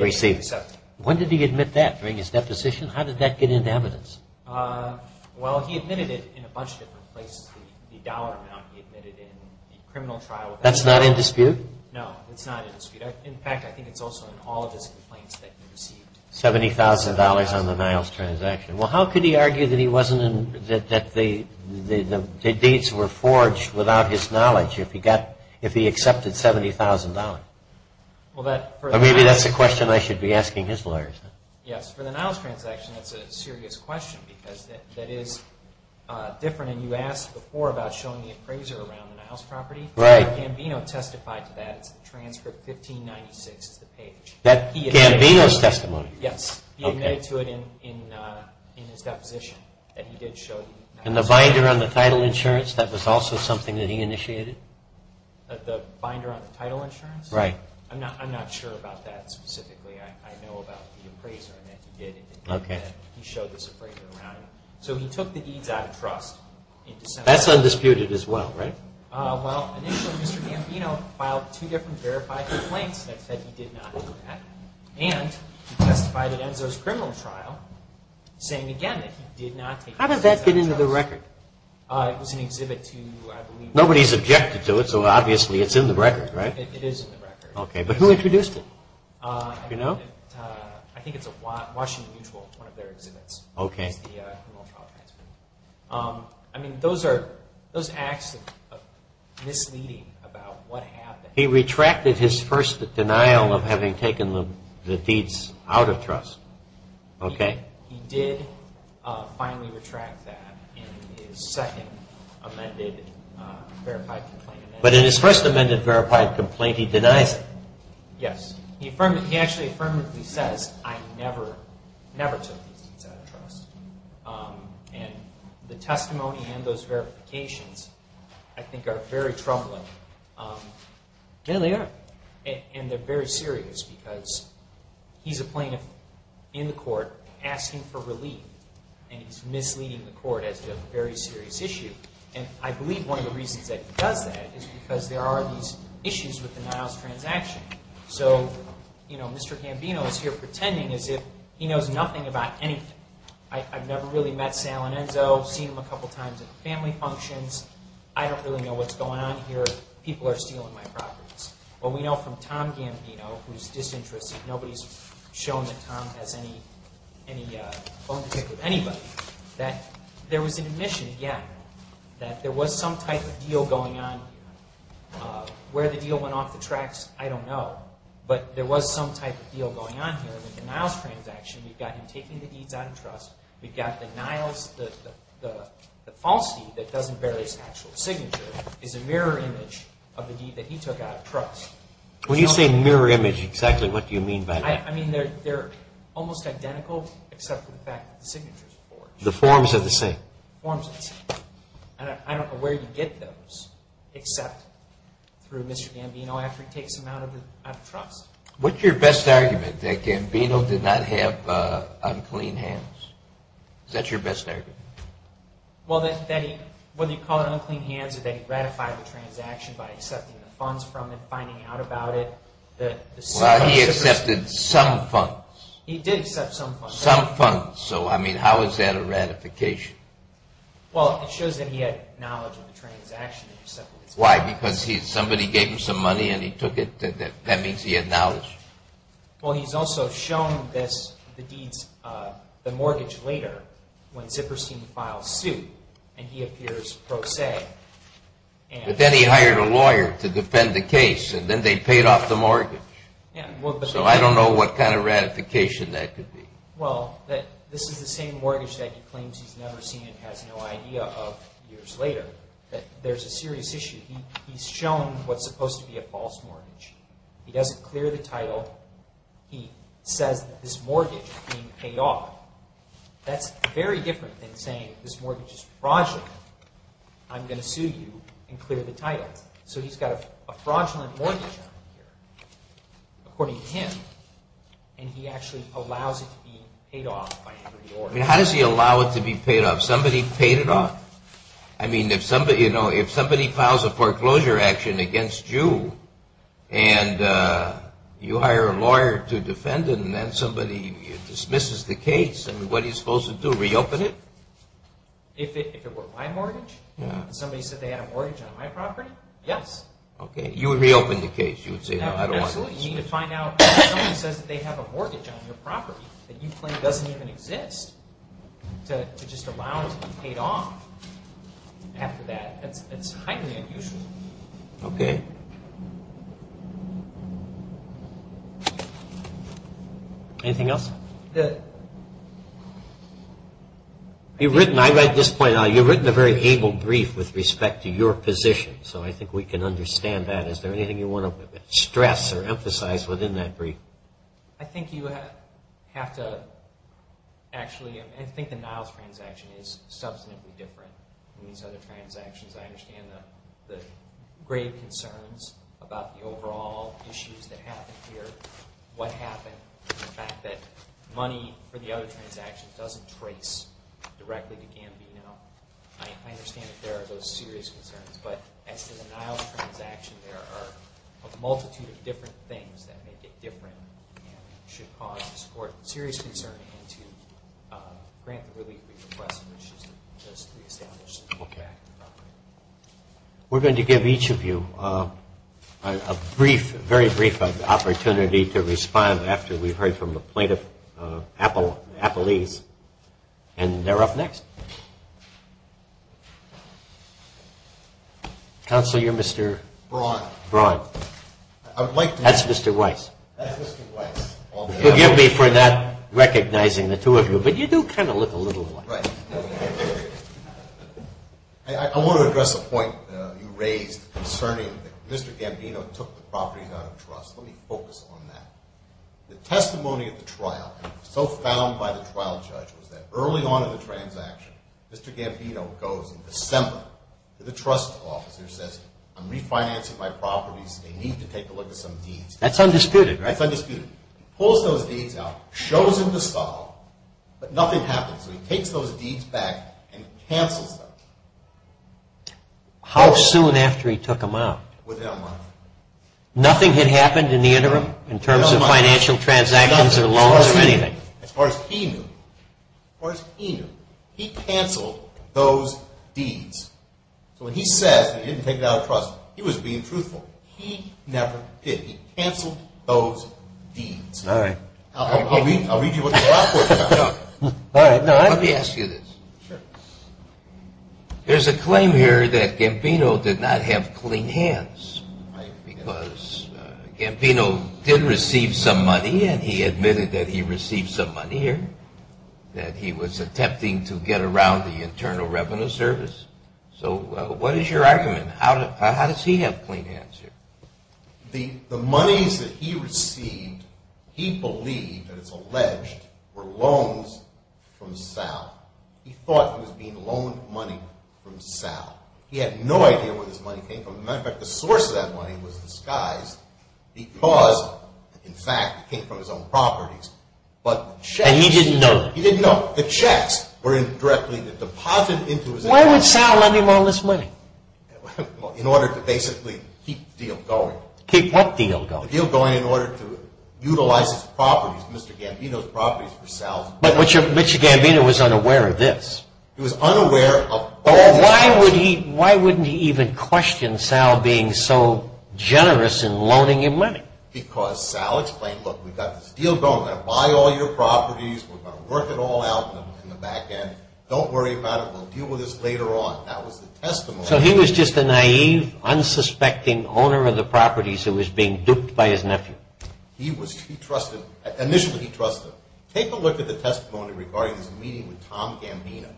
received. When did he admit that, during his deposition? How did that get into evidence? Well, he admitted it in a bunch of different places. The dollar amount he admitted in the criminal trial. That's not in dispute? No, it's not in dispute. In fact, I think it's also in all of his complaints that he received. $70,000 on the Niles transaction. Well, how could he argue that the dates were forged without his knowledge if he accepted $70,000? Maybe that's a question I should be asking his lawyers. Yes. For the Niles transaction, that's a serious question. That is different. You asked before about showing the appraiser around the Niles property. Gambino testified to that. Transcript 1596 of the page. That's Gambino's testimony? Yes. He admitted to it in his deposition. And the binder on the title insurance, that was also something that he initiated? The binder on the title insurance? Right. I'm not sure about that specifically. I know about the appraiser. Okay. That's undisputed as well, right? How did that get into the record? Nobody's objected to it, so obviously it's in the record, right? Okay, but who introduced it? Do you know? Okay. He retracted his first denial of having taken the deeds out of trust. Okay. But in his first amended verified complaint, he denied it. Yes. He actually affirmatively says, I never took the deeds out of trust. And the testimony and those verifications, I think, are very troubling. And they're very serious because he's a plaintiff in the court asking for relief, and he's misleading the court as to a very serious issue. And I believe one of the reasons that he does that is because there are these issues with the Niles transaction. So, you know, Mr. Gambino is here pretending as if he knows nothing about anything. I've never really met Sal and Enzo, seen them a couple times at family functions. I don't really know what's going on here. People are stealing my properties. But we know from Tom Gambino, who's disinterested, nobody's shown that Tom has any own pick of anybody, that there was an admission, yeah, that there was some type of deal going on. Where the deal went off the tracks, I don't know. But there was some type of deal going on here with the Niles transaction. We've got him taking the deeds out of trust. We've got the Niles, the false deed that doesn't bear his actual signature, is a mirror image of the deed that he took out of trust. When you say mirror image, exactly what do you mean by that? I mean, they're almost identical, except for the fact that the signature's forged. The forms are the same. The forms are the same. I don't know where you get those, except through Mr. Gambino after he takes them out of trust. What's your best argument, that Gambino did not have unclean hands? Is that your best argument? Well, that he, what do you call it, unclean hands, that he ratified the transaction by accepting the funds from it, finding out about it. Well, he accepted some funds. He did accept some funds. Some funds. So, I mean, how is that a ratification? Well, it shows that he had knowledge of the transaction. Why, because somebody gave him some money and he took it? That means he had knowledge. Well, he's also shown this, the mortgage later, when Zipperstein files suit, and he appears pro se. But then he hired a lawyer to defend the case, and then they paid off the mortgage. So, I don't know what kind of ratification that could be. Well, that this is the same mortgage that he claims he's never seen and has no idea of years later, that there's a serious issue. He's shown what's supposed to be a false mortgage. He doesn't clear the title. He says that this mortgage is being paid off. That's very different than saying this mortgage is fraudulent. I'm going to sue you and clear the title. So, he's got a fraudulent mortgage account here, according to him, and he actually allows it to be paid off. How does he allow it to be paid off? Somebody paid it off? I mean, if somebody files a foreclosure action against you, and you hire a lawyer to defend it, and then somebody dismisses the case, what are you supposed to do, reopen it? If it were my mortgage? If somebody said they had a mortgage on my property? Yes. Okay, you would reopen the case. You need to find out if somebody says they have a mortgage on your property that you claim doesn't even exist to just allow it to be paid off after that. That's highly unusual. Okay. Anything else? You've written, I read this point, you've written a very able brief with respect to your position, so I think we can understand that. Is there anything you want to stress or emphasize within that brief? I think you have to actually, I think the Niles transaction is substantially different than these other transactions. I understand the grave concerns about the overall issues that happen here, what happened, the fact that money for the other transactions doesn't trace directly to Campino. I understand that there are those serious concerns, but at the Niles transaction, there are a multitude of different things that make it different that should cause this court serious concern and to grant relief to the press, which is just pre-established. Okay. We're going to give each of you a brief, a very brief opportunity to respond after we've heard from the plaintiff, Apple Leaf, and they're up next. Counselor, you're Mr.? Braun. Braun. That's Mr. Weiss. That's Mr. Weiss. Forgive me for not recognizing the two of you, but you do kind of look a little alike. Right. I want to address the point you raised concerning Mr. Gambino took the properties out of trust. Let me focus on that. The testimony of the trial, so found by the trial judge, was that early on in the transaction, Mr. Gambino goes and presents them to the trust officer, says, I'm refinancing my properties. They need to take a look at some deeds. That's undisputed, right? That's undisputed. Pulls those deeds out, shows them to Scott, but nothing happens. He takes those deeds back and cancels them. How soon after he took them out? Within a month. Nothing had happened in the interim in terms of financial transactions or loans or anything? As far as he knew. As far as he knew. He canceled those deeds. When he says he didn't take them out of trust, he was being truthful. He never did. He canceled those deeds. All right. I'll read you what they are. Let me ask you this. Sure. There's a claim here that Gambino did not have clean hands because Gambino did receive some money and he admitted that he received some money here, that he was attempting to get around the Internal Revenue Service. So what is your argument? How does he have clean hands here? The money that he received, he believed, and it's alleged, were loans from Sal. He thought it was being loaned money from Sal. He had no idea where his money came from. As a matter of fact, the source of that money was in disguise because, in fact, it came from his own properties. And he didn't know? He didn't know. The checks were directly deposited into his account. Why would Sal loan him all this money? In order to basically keep the deal going. Keep what deal going? The deal going in order to utilize his properties, Mr. Gambino's properties, for Sal. But Mr. Gambino was unaware of this. He was unaware. Why wouldn't he even question Sal being so generous in loaning him money? Because Sal explained, look, we've got this deal going. We're going to buy all your properties. We're going to work it all out in the back end. Don't worry about it. We'll deal with this later on. That was the testimony. So he was just a naive, unsuspecting owner of the properties who was being duped by his nephew. He trusted, initially he trusted. Take a look at the testimony regarding his meeting with Tom Gambino,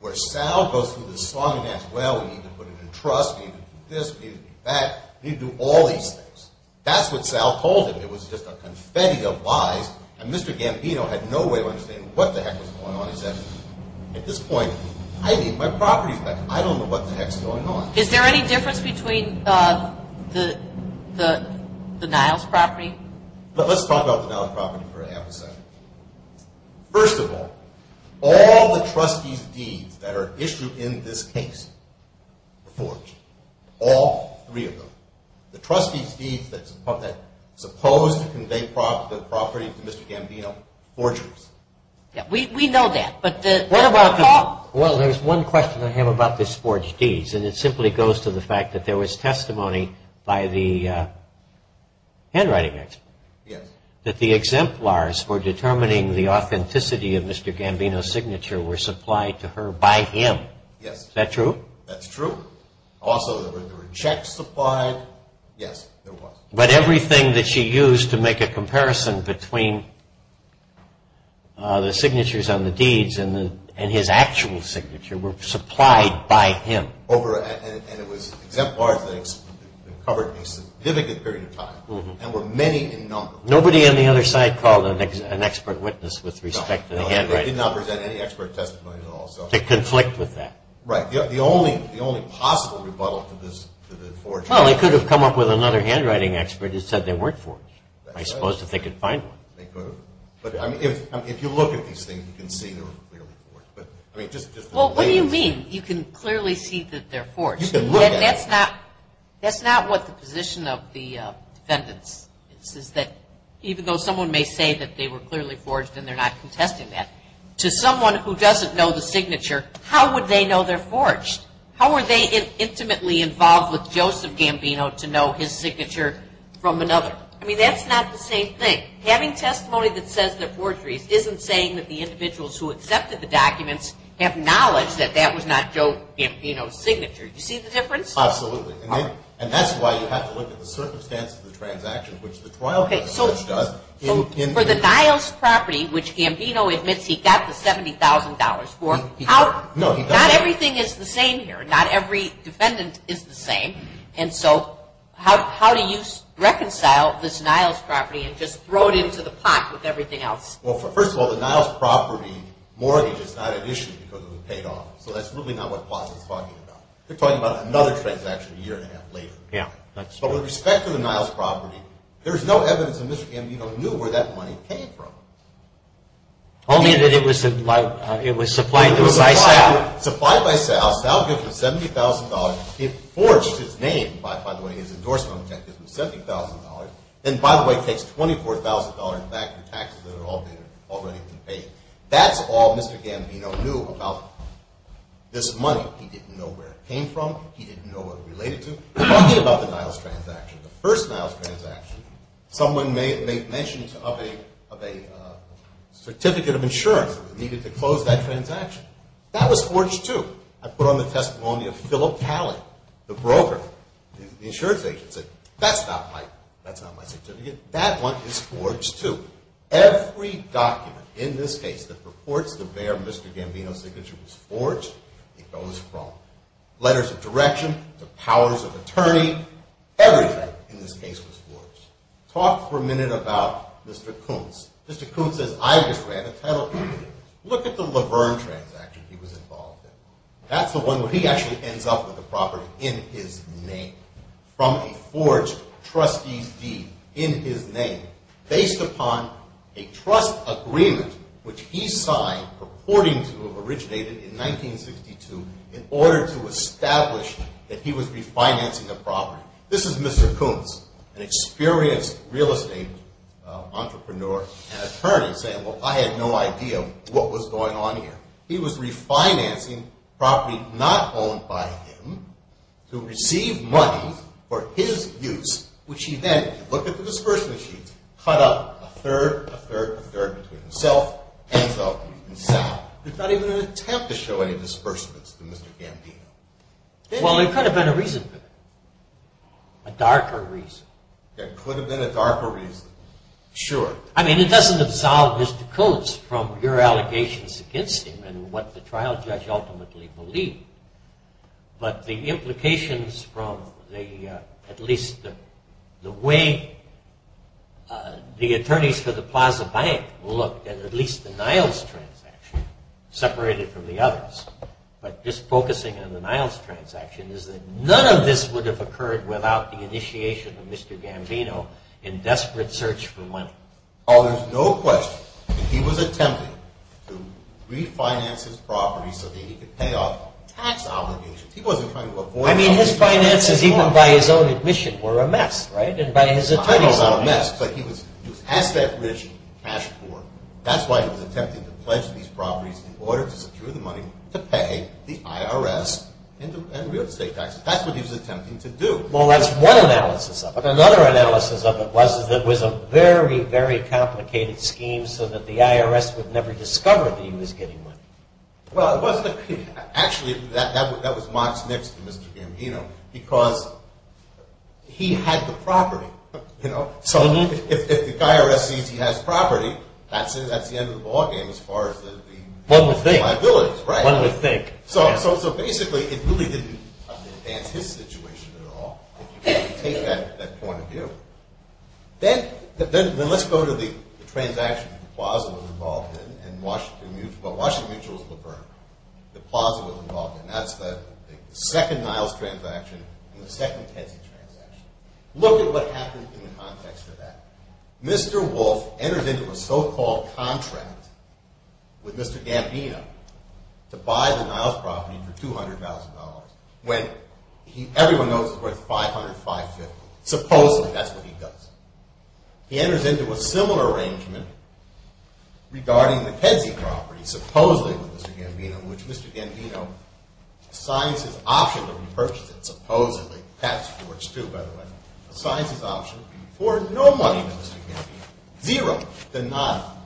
where Sal goes through his funding as well. He can put it into trusts. He can do this. He can do that. He can do all these things. That's what Sal told him. It was just a confetti of lies, and Mr. Gambino had no way of understanding what the heck was going on. He said, at this point, I need my property back. I don't know what the heck is going on. Is there any difference between the Niall's property? Let's talk about the Niall's property for a half a second. First of all, all the trustee fees that are issued in this case, reports, all three of them, the trustee fees that are supposed to convey property to Mr. Gambino, forgeries. We know that, but what about Tom? Well, there's one question I have about the forged deeds, and it simply goes to the fact that there was testimony by the handwriting agent that the exemplars for determining the authenticity of Mr. Gambino's signature were supplied to her by him. Is that true? That's true. Also, was there a check supplied? Yes, there was. But everything that she used to make a comparison between the signatures on the deeds and his actual signature were supplied by him. And it was exemplar things that covered a significant period of time, and were many in number. Nobody on the other side called an expert witness with respect to the handwriting. No, they did not present any expert testimonies at all. To conflict with that. Right. The only possible rebuttal to this is forged. Well, they could have come up with another handwriting expert that said they weren't forged. I suppose that they could find them. They could have. But if you look at these things, you can see they were forged. Well, what do you mean, you can clearly see that they're forged? You can look at them. That's not what the position of the defendant is, is that even though someone may say that they were clearly forged and they're not contesting that, to someone who doesn't know the signature, how would they know they're forged? How were they intimately involved with Joseph Gambino to know his signature from another? I mean, that's not the same thing. Having testimony that says they're forged isn't saying that the individuals who accepted the documents have knowledge that that was not Joseph Gambino's signature. Do you see the difference? Absolutely. And that's why you have to look at the circumstances of the transaction, which the trial case does. For the Niles property, which Gambino admits he got the $70,000 for, not everything is the same here. Not every defendant is the same, and so how do you reconcile this Niles property and just throw it into the pot with everything else? Well, first of all, the Niles property, more of it is not an issue because it was paid off, so that's really not what the clause is talking about. They're talking about another transaction a year and a half later. But with respect to the Niles property, there's no evidence that Mr. Gambino knew where that money came from. Only that it was supplied to him by South. Supplied by South, found him with $70,000, forged his name, by the way, his endorsement on the case was $70,000, and, by the way, takes $24,000 back in taxes that had already been paid. That's all Mr. Gambino knew about this money. He didn't know where it came from. He didn't know what it was related to. There's nothing about the Niles transaction. The first Niles transaction, someone made mention of a certificate of insurance that was needed to close that transaction. That was forged, too. I put on the testimony of Philip Talley, the broker. The insurance agent said, that's not my certificate. That one is forged, too. Every document in this case that purports to bear Mr. Gambino's signature is forged. It goes wrong. Letters of direction, the powers of attorney, everything in this case is forged. Talk for a minute about Mr. Koontz. Mr. Koontz is either way, the title is different. Look at the Laverne transaction he was involved in. That's the one where he actually ends up with the property in his name from a forged trustee deed in his name based upon a trust agreement which he signed purporting to have originated in 1962 in order to establish that he was refinancing the property. This is Mr. Koontz, an experienced real estate entrepreneur and attorney saying, well, I had no idea what was going on here. He was refinancing property not owned by him to receive money for his use which he then, looking for disbursement fees, cut up a third, a third, a third, between himself, himself, himself. There's not even an attempt to show any disbursements to Mr. Gambino. Well, there could have been a reason for that. A darker reason. There could have been a darker reason. Sure. I mean, he doesn't absolve Mr. Koontz from your allegations against him and what the trial judge ultimately believed, but the implications from the, at least, the way the attorneys for the Plaza Bank looked at at least the Niles transaction, separated from the others, but this focusing on the Niles transaction is that none of this would have occurred without the initiation of Mr. Gambino in desperate search for money. Oh, there's no question. He was attempting to refinance his property so that he could pay off tax obligations. I mean, his finances, even by his own admission, were a mess, right? So he had that rich, cash poor. That's why he was attempting to pledge these properties in order to secure the money to pay the IRS and live state taxes. That's what he was attempting to do. Well, that's one analysis of it. Another analysis of it was that it was a very, very complicated scheme so that the IRS would never discover he was getting money. Well, actually, that was Mark's next to Mr. Gambino because he had the property, you know? So if the IRS sees he has property, that's it at the end of the ballgame as far as the liabilities, right? One would think. So basically, it really didn't understand his situation at all. It didn't take that point of view. Then let's go to the transaction the Plaza was involved in and Washington Mutual. Well, Washington Mutual was the burner. The Plaza was involved in that. The second Miles transaction was the second Kedzie transaction. Look at what happens in the context of that. Mr. Wolfe enters into a so-called contract with Mr. Gambino to buy the Miles property for $200,000, when everyone knows it's worth $505,000. Supposedly, that's what he does. He enters into a similar arrangement regarding the Kedzie property, supposedly with Mr. Gambino, which Mr. Gambino signs his option to purchase it, supposedly. Pat Stewart's, too, by the way. Signs his option for no money, Mr. Gambino. Nearer than not.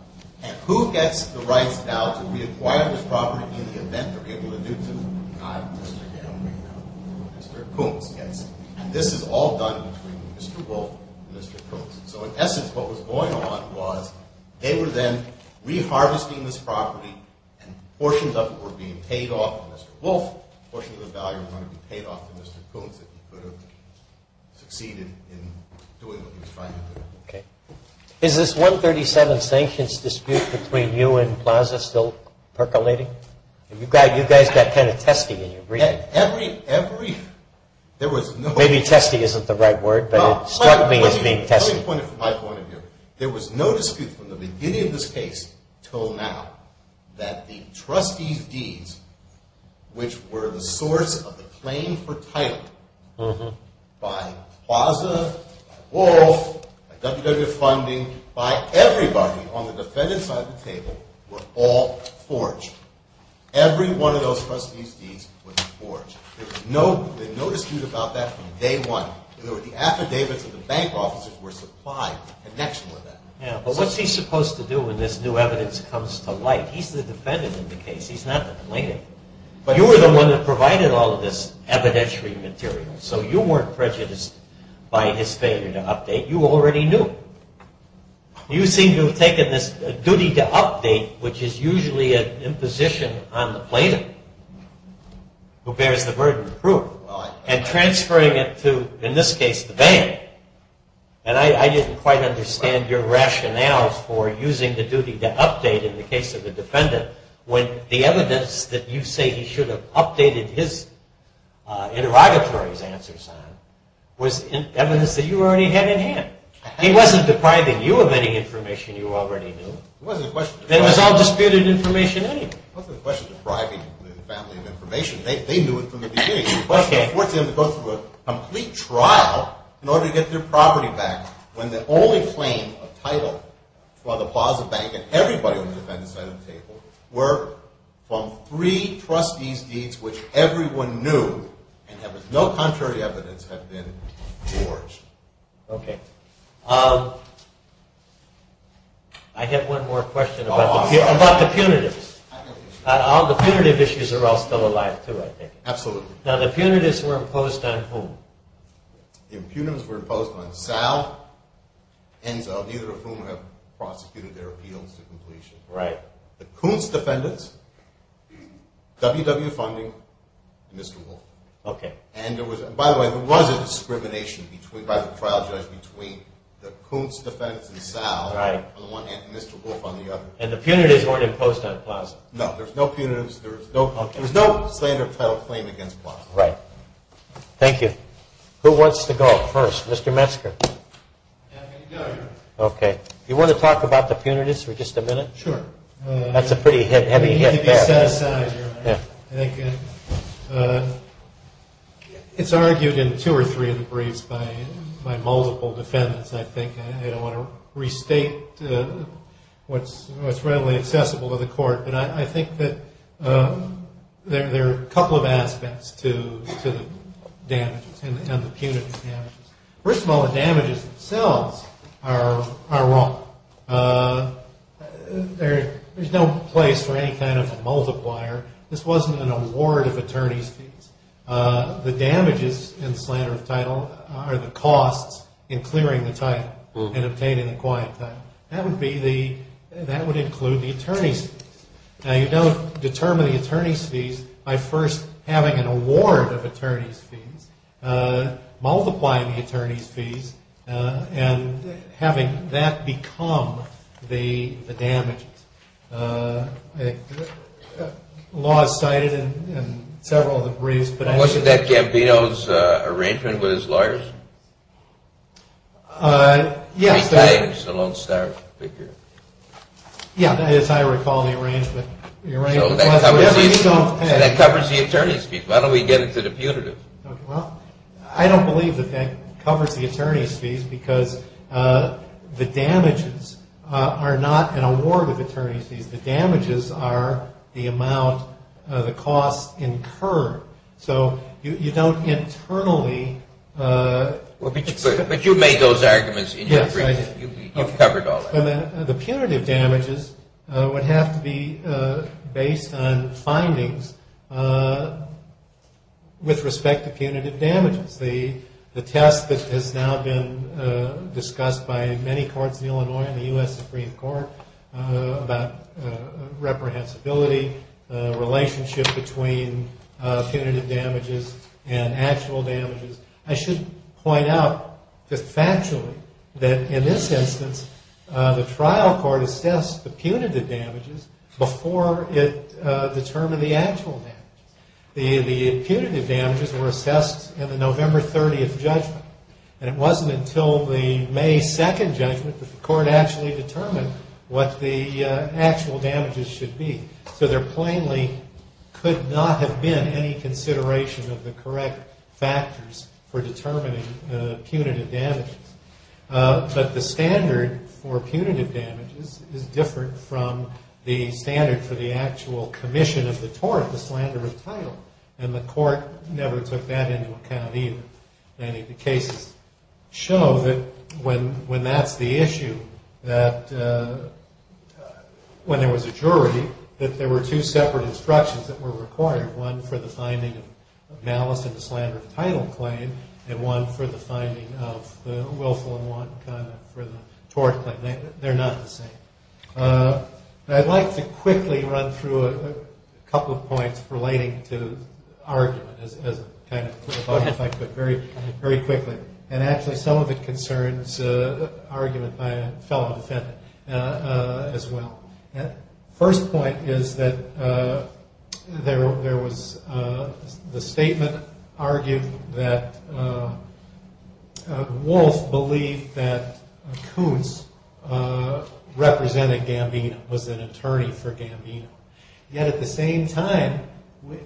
And who gets the right now to reacquire the property in the event they're able to do so? Mr. Kedzie. Mr. Coombs gets it. And this is all done between Mr. Wolfe and Mr. Coombs. So in essence, what was going on was they were then re-harvesting this property, and portions of it were being paid off to Mr. Wolfe, and a portion of the value was going to be paid off to Mr. Coombs, which succeeded in doing what he was trying to do. Okay. Is this 137 sanctions dispute between you and FASA still percolating? You guys got 10 of testing in your brief. Every, every... Maybe testing isn't the right word, but it struck me as being testing. My point of view, there was no dispute from the beginning of this case until now that the trustees' deeds, which were the source of the claim for title by FASA, by Oral, by WW Funding, by everybody on the defendant's side of the table, were all forged. Every one of those trustees' deeds was forged. There's no dispute about that from day one. The affidavits of the bank officers were supplied. The next were that. Yeah, but what's he supposed to do when this new evidence comes to light? He's the defendant in the case. He's not the plaintiff. But you were the one that provided all of this evidentiary material, so you weren't prejudiced by his failure to update. You already knew. You seem to have taken this duty to update, which is usually an imposition on the plaintiff, who bears the burden of proof, and transferring it to, in this case, the bank. And I didn't quite understand your rationale for using the duty to update in the case of the defendant when the evidence that you say he should have updated his interrogatory answers on was evidence that you already had in hand. He wasn't depriving you of any information you already knew. There was no disputed information anyway. It wasn't a question of depriving the defendant of information. They knew it from the beginning. It was a question of forcing them to go through a complete trial in order to get their property back when the only claim of title for the Plaza Bank, and everybody on the defendant's side of the table, were from three trustee's deeds which everyone knew, and no contrary evidence had been forged. Okay. I have one more question about the punitive. All the punitive issues are all still alive, too, I think. Absolutely. Now, the punitives were imposed on whom? The punitives were imposed on Dow, and neither of whom have prosecuted their appeals to completion. Right. The Coons defendants, WW Funding, and Mr. Wolf. Okay. And there was, by the way, there was a discrimination by the trial judge between the Coons defendants and Dow, and Mr. Wolf on the other side. And the punitives weren't imposed on Plaza? No. There was no standard title claim against Plaza. Right. Thank you. Who wants to go first? Mr. Metzger. Okay. Do you want to talk about the punitives for just a minute? Sure. That's a pretty heavy hit back there. I think it's argued in two or three of the briefs by multiple defendants, I think. I don't want to restate what's readily accessible to the court, but I think that there are a couple of aspects to the damages and the punitive damages. First of all, the damages themselves are wrong. There's no place for any kind of multiplier. This wasn't an award of attorney's fees. The damages in slanderous title are the costs in clearing the title and the paid and acquired title. That would include the attorney's fees. Now, you don't determine the attorney's fees by first having an award of attorney's fees, multiplying the attorney's fees, and having that become the damage. The law is cited in several of the briefs. Wasn't that Gambino's arrangement with his lawyers? Yes. He's a lone star figure. Yes, as I recall the arrangement. And it covers the attorney's fees. Why don't we get it for the punitive? I don't believe that that covers the attorney's fees because the damages are not an award of attorney's fees. The damages are the amount of the cost incurred. So you don't internally... But you made those arguments in your brief. You covered all that. The punitive damages would have to be based on findings with respect to punitive damages. The test that has now been discussed by many courts in Illinois and the U.S. Supreme Court about reprehensibility, the relationship between punitive damages and actual damages. I should point out that factually, that in this instance, the trial court assessed the punitive damages before it determined the actual damage. The punitive damages were assessed in the November 30th judgment. And it wasn't until the May 2nd judgment that the court actually determined what the actual damages should be. So there plainly could not have been any consideration of the correct factors for determining punitive damages. But the standard for punitive damages is different from the standard for the actual commission of the tort, the slanderous title. And the court never took that into account either. Many of the cases show that when that's the issue, that when there was a jury, that there were two separate instructions that were required. One for the finding of malice in the slanderous title claim and one for the finding of the willful and wanton conduct for the tort. But they're not the same. I'd like to quickly run through a couple of points relating to arguments. I'll get back to it very quickly. And actually, some of it concerns arguments by a fellow defendant as well. First point is that there was the statement argued that Walsh believed that Coons represented Gambino, was an attorney for Gambino. Yet at the same time,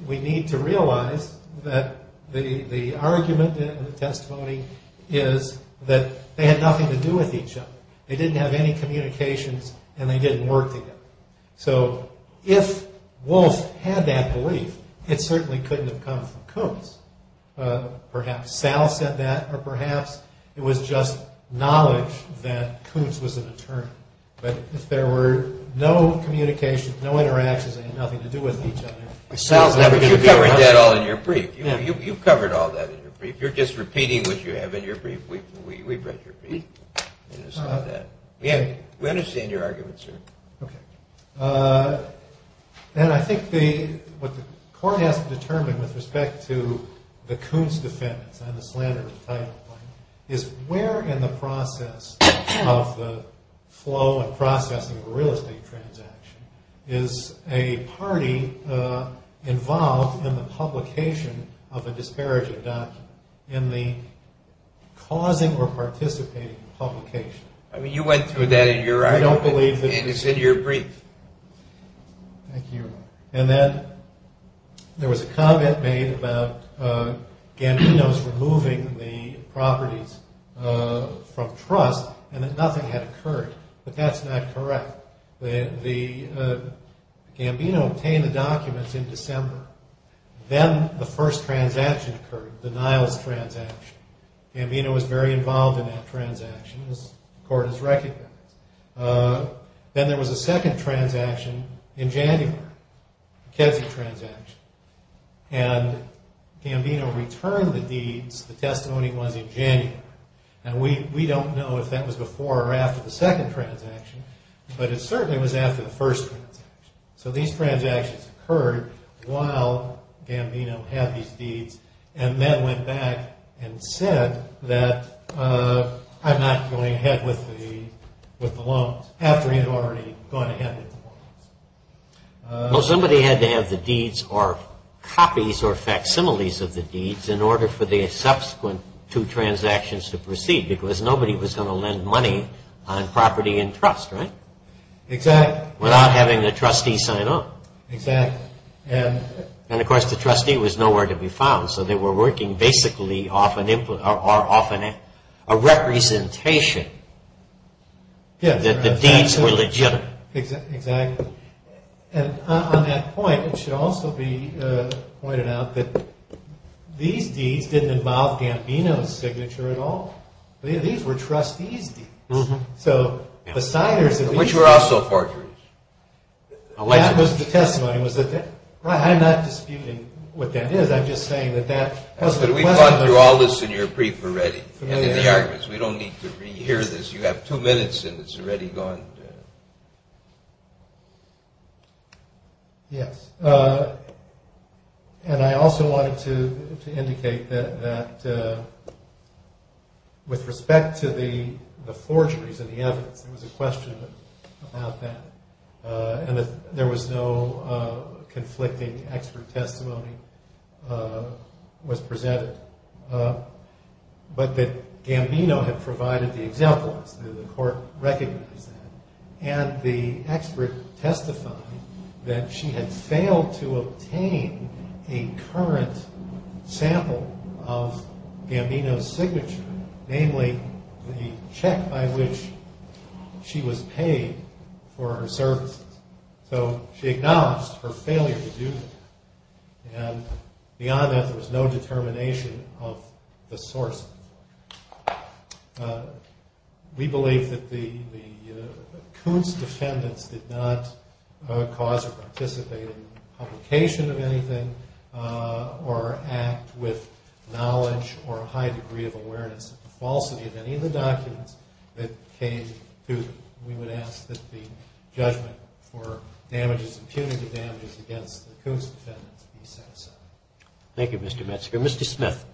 we need to realize that the argument in the testimony is that they had nothing to do with each other. They didn't have any communications and they didn't work together. So if Walsh had that belief, it certainly couldn't have come from Coons. Perhaps Sal said that, or perhaps it was just knowledge that Coons was an attorney. If there were no communications, no interactions, it had nothing to do with each other. Sal's never going to get rid of that all in your brief. You've covered all that in your brief. You're just repeating what you have in your brief. We've read your brief. We understand your argument, sir. OK. And I think what the court has to determine with respect to the Coons defense and the slander of the title point is where in the process of the flow of processing of a real estate transaction is a party involved in the publication of a disparaging document in the causing or participating publication. I mean, you went through that in your writing. I don't believe this is in your brief. Thank you. And then there was a comment made about Gambino's removing the properties from trust and that nothing had occurred. But that's not correct. Gambino obtained the documents in December. Then the first transaction occurred, the Niles transaction. Gambino was very involved in that transaction, as the court has recognized. Then there was a second transaction in January, the Kedzie transaction. And Gambino returned the deeds, the testimony was in January. And we don't know if that was before or after the second transaction, but it certainly was after the first transaction. So these transactions occurred while Gambino had these deeds and then went back and said that I'm not going ahead with the loans after he had already gone ahead with the loans. Well, somebody had to have the deeds or copies or facsimiles of the deeds in order for the subsequent two transactions to proceed because nobody was going to lend money on property in trust, right? Exactly. Without having the trustee sign off. Exactly. And of course, the trustee was nowhere to be found. So they were working basically off a representation that the deeds were legitimate. Exactly. And on that point, it should also be pointed out that these deeds didn't involve Gambino's signature at all. These were trustee's deeds. So the signers of these deeds. Which were also torturers. That was the testimony. I'm not disputing what that is. I'm just saying that that was the testimony. But we've gone through all this in your brief already. We don't need to re-hear this. You have two minutes and it's already gone. Yes. And I also wanted to indicate that with respect to the forgeries and the other, there was no conflicting expert testimony was presented. But that Gambino had provided the example, and the court recognized that. And the expert testified that she had failed to obtain a current sample of Gambino's signature. Namely, the check by which she was paid for her service. So she acknowledged her failure to do this. And beyond that, there was no determination of the source. We believe that the accused defendant did not cause or participate in publication of anything or act with knowledge or a high degree of awareness of the falsity of any of the documents that came to them. We would ask that the judgment or punitive damages against the accused defendant be set aside. Thank you, Mr. Metzger. Mr. Smith,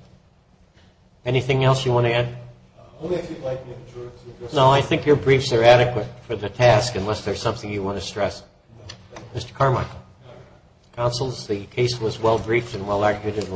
anything else you want to add? No, I think your briefs are adequate for the task, unless there's something you want to stress. Mr. Carmichael. Counsel, the case was well-briefed and well-acted.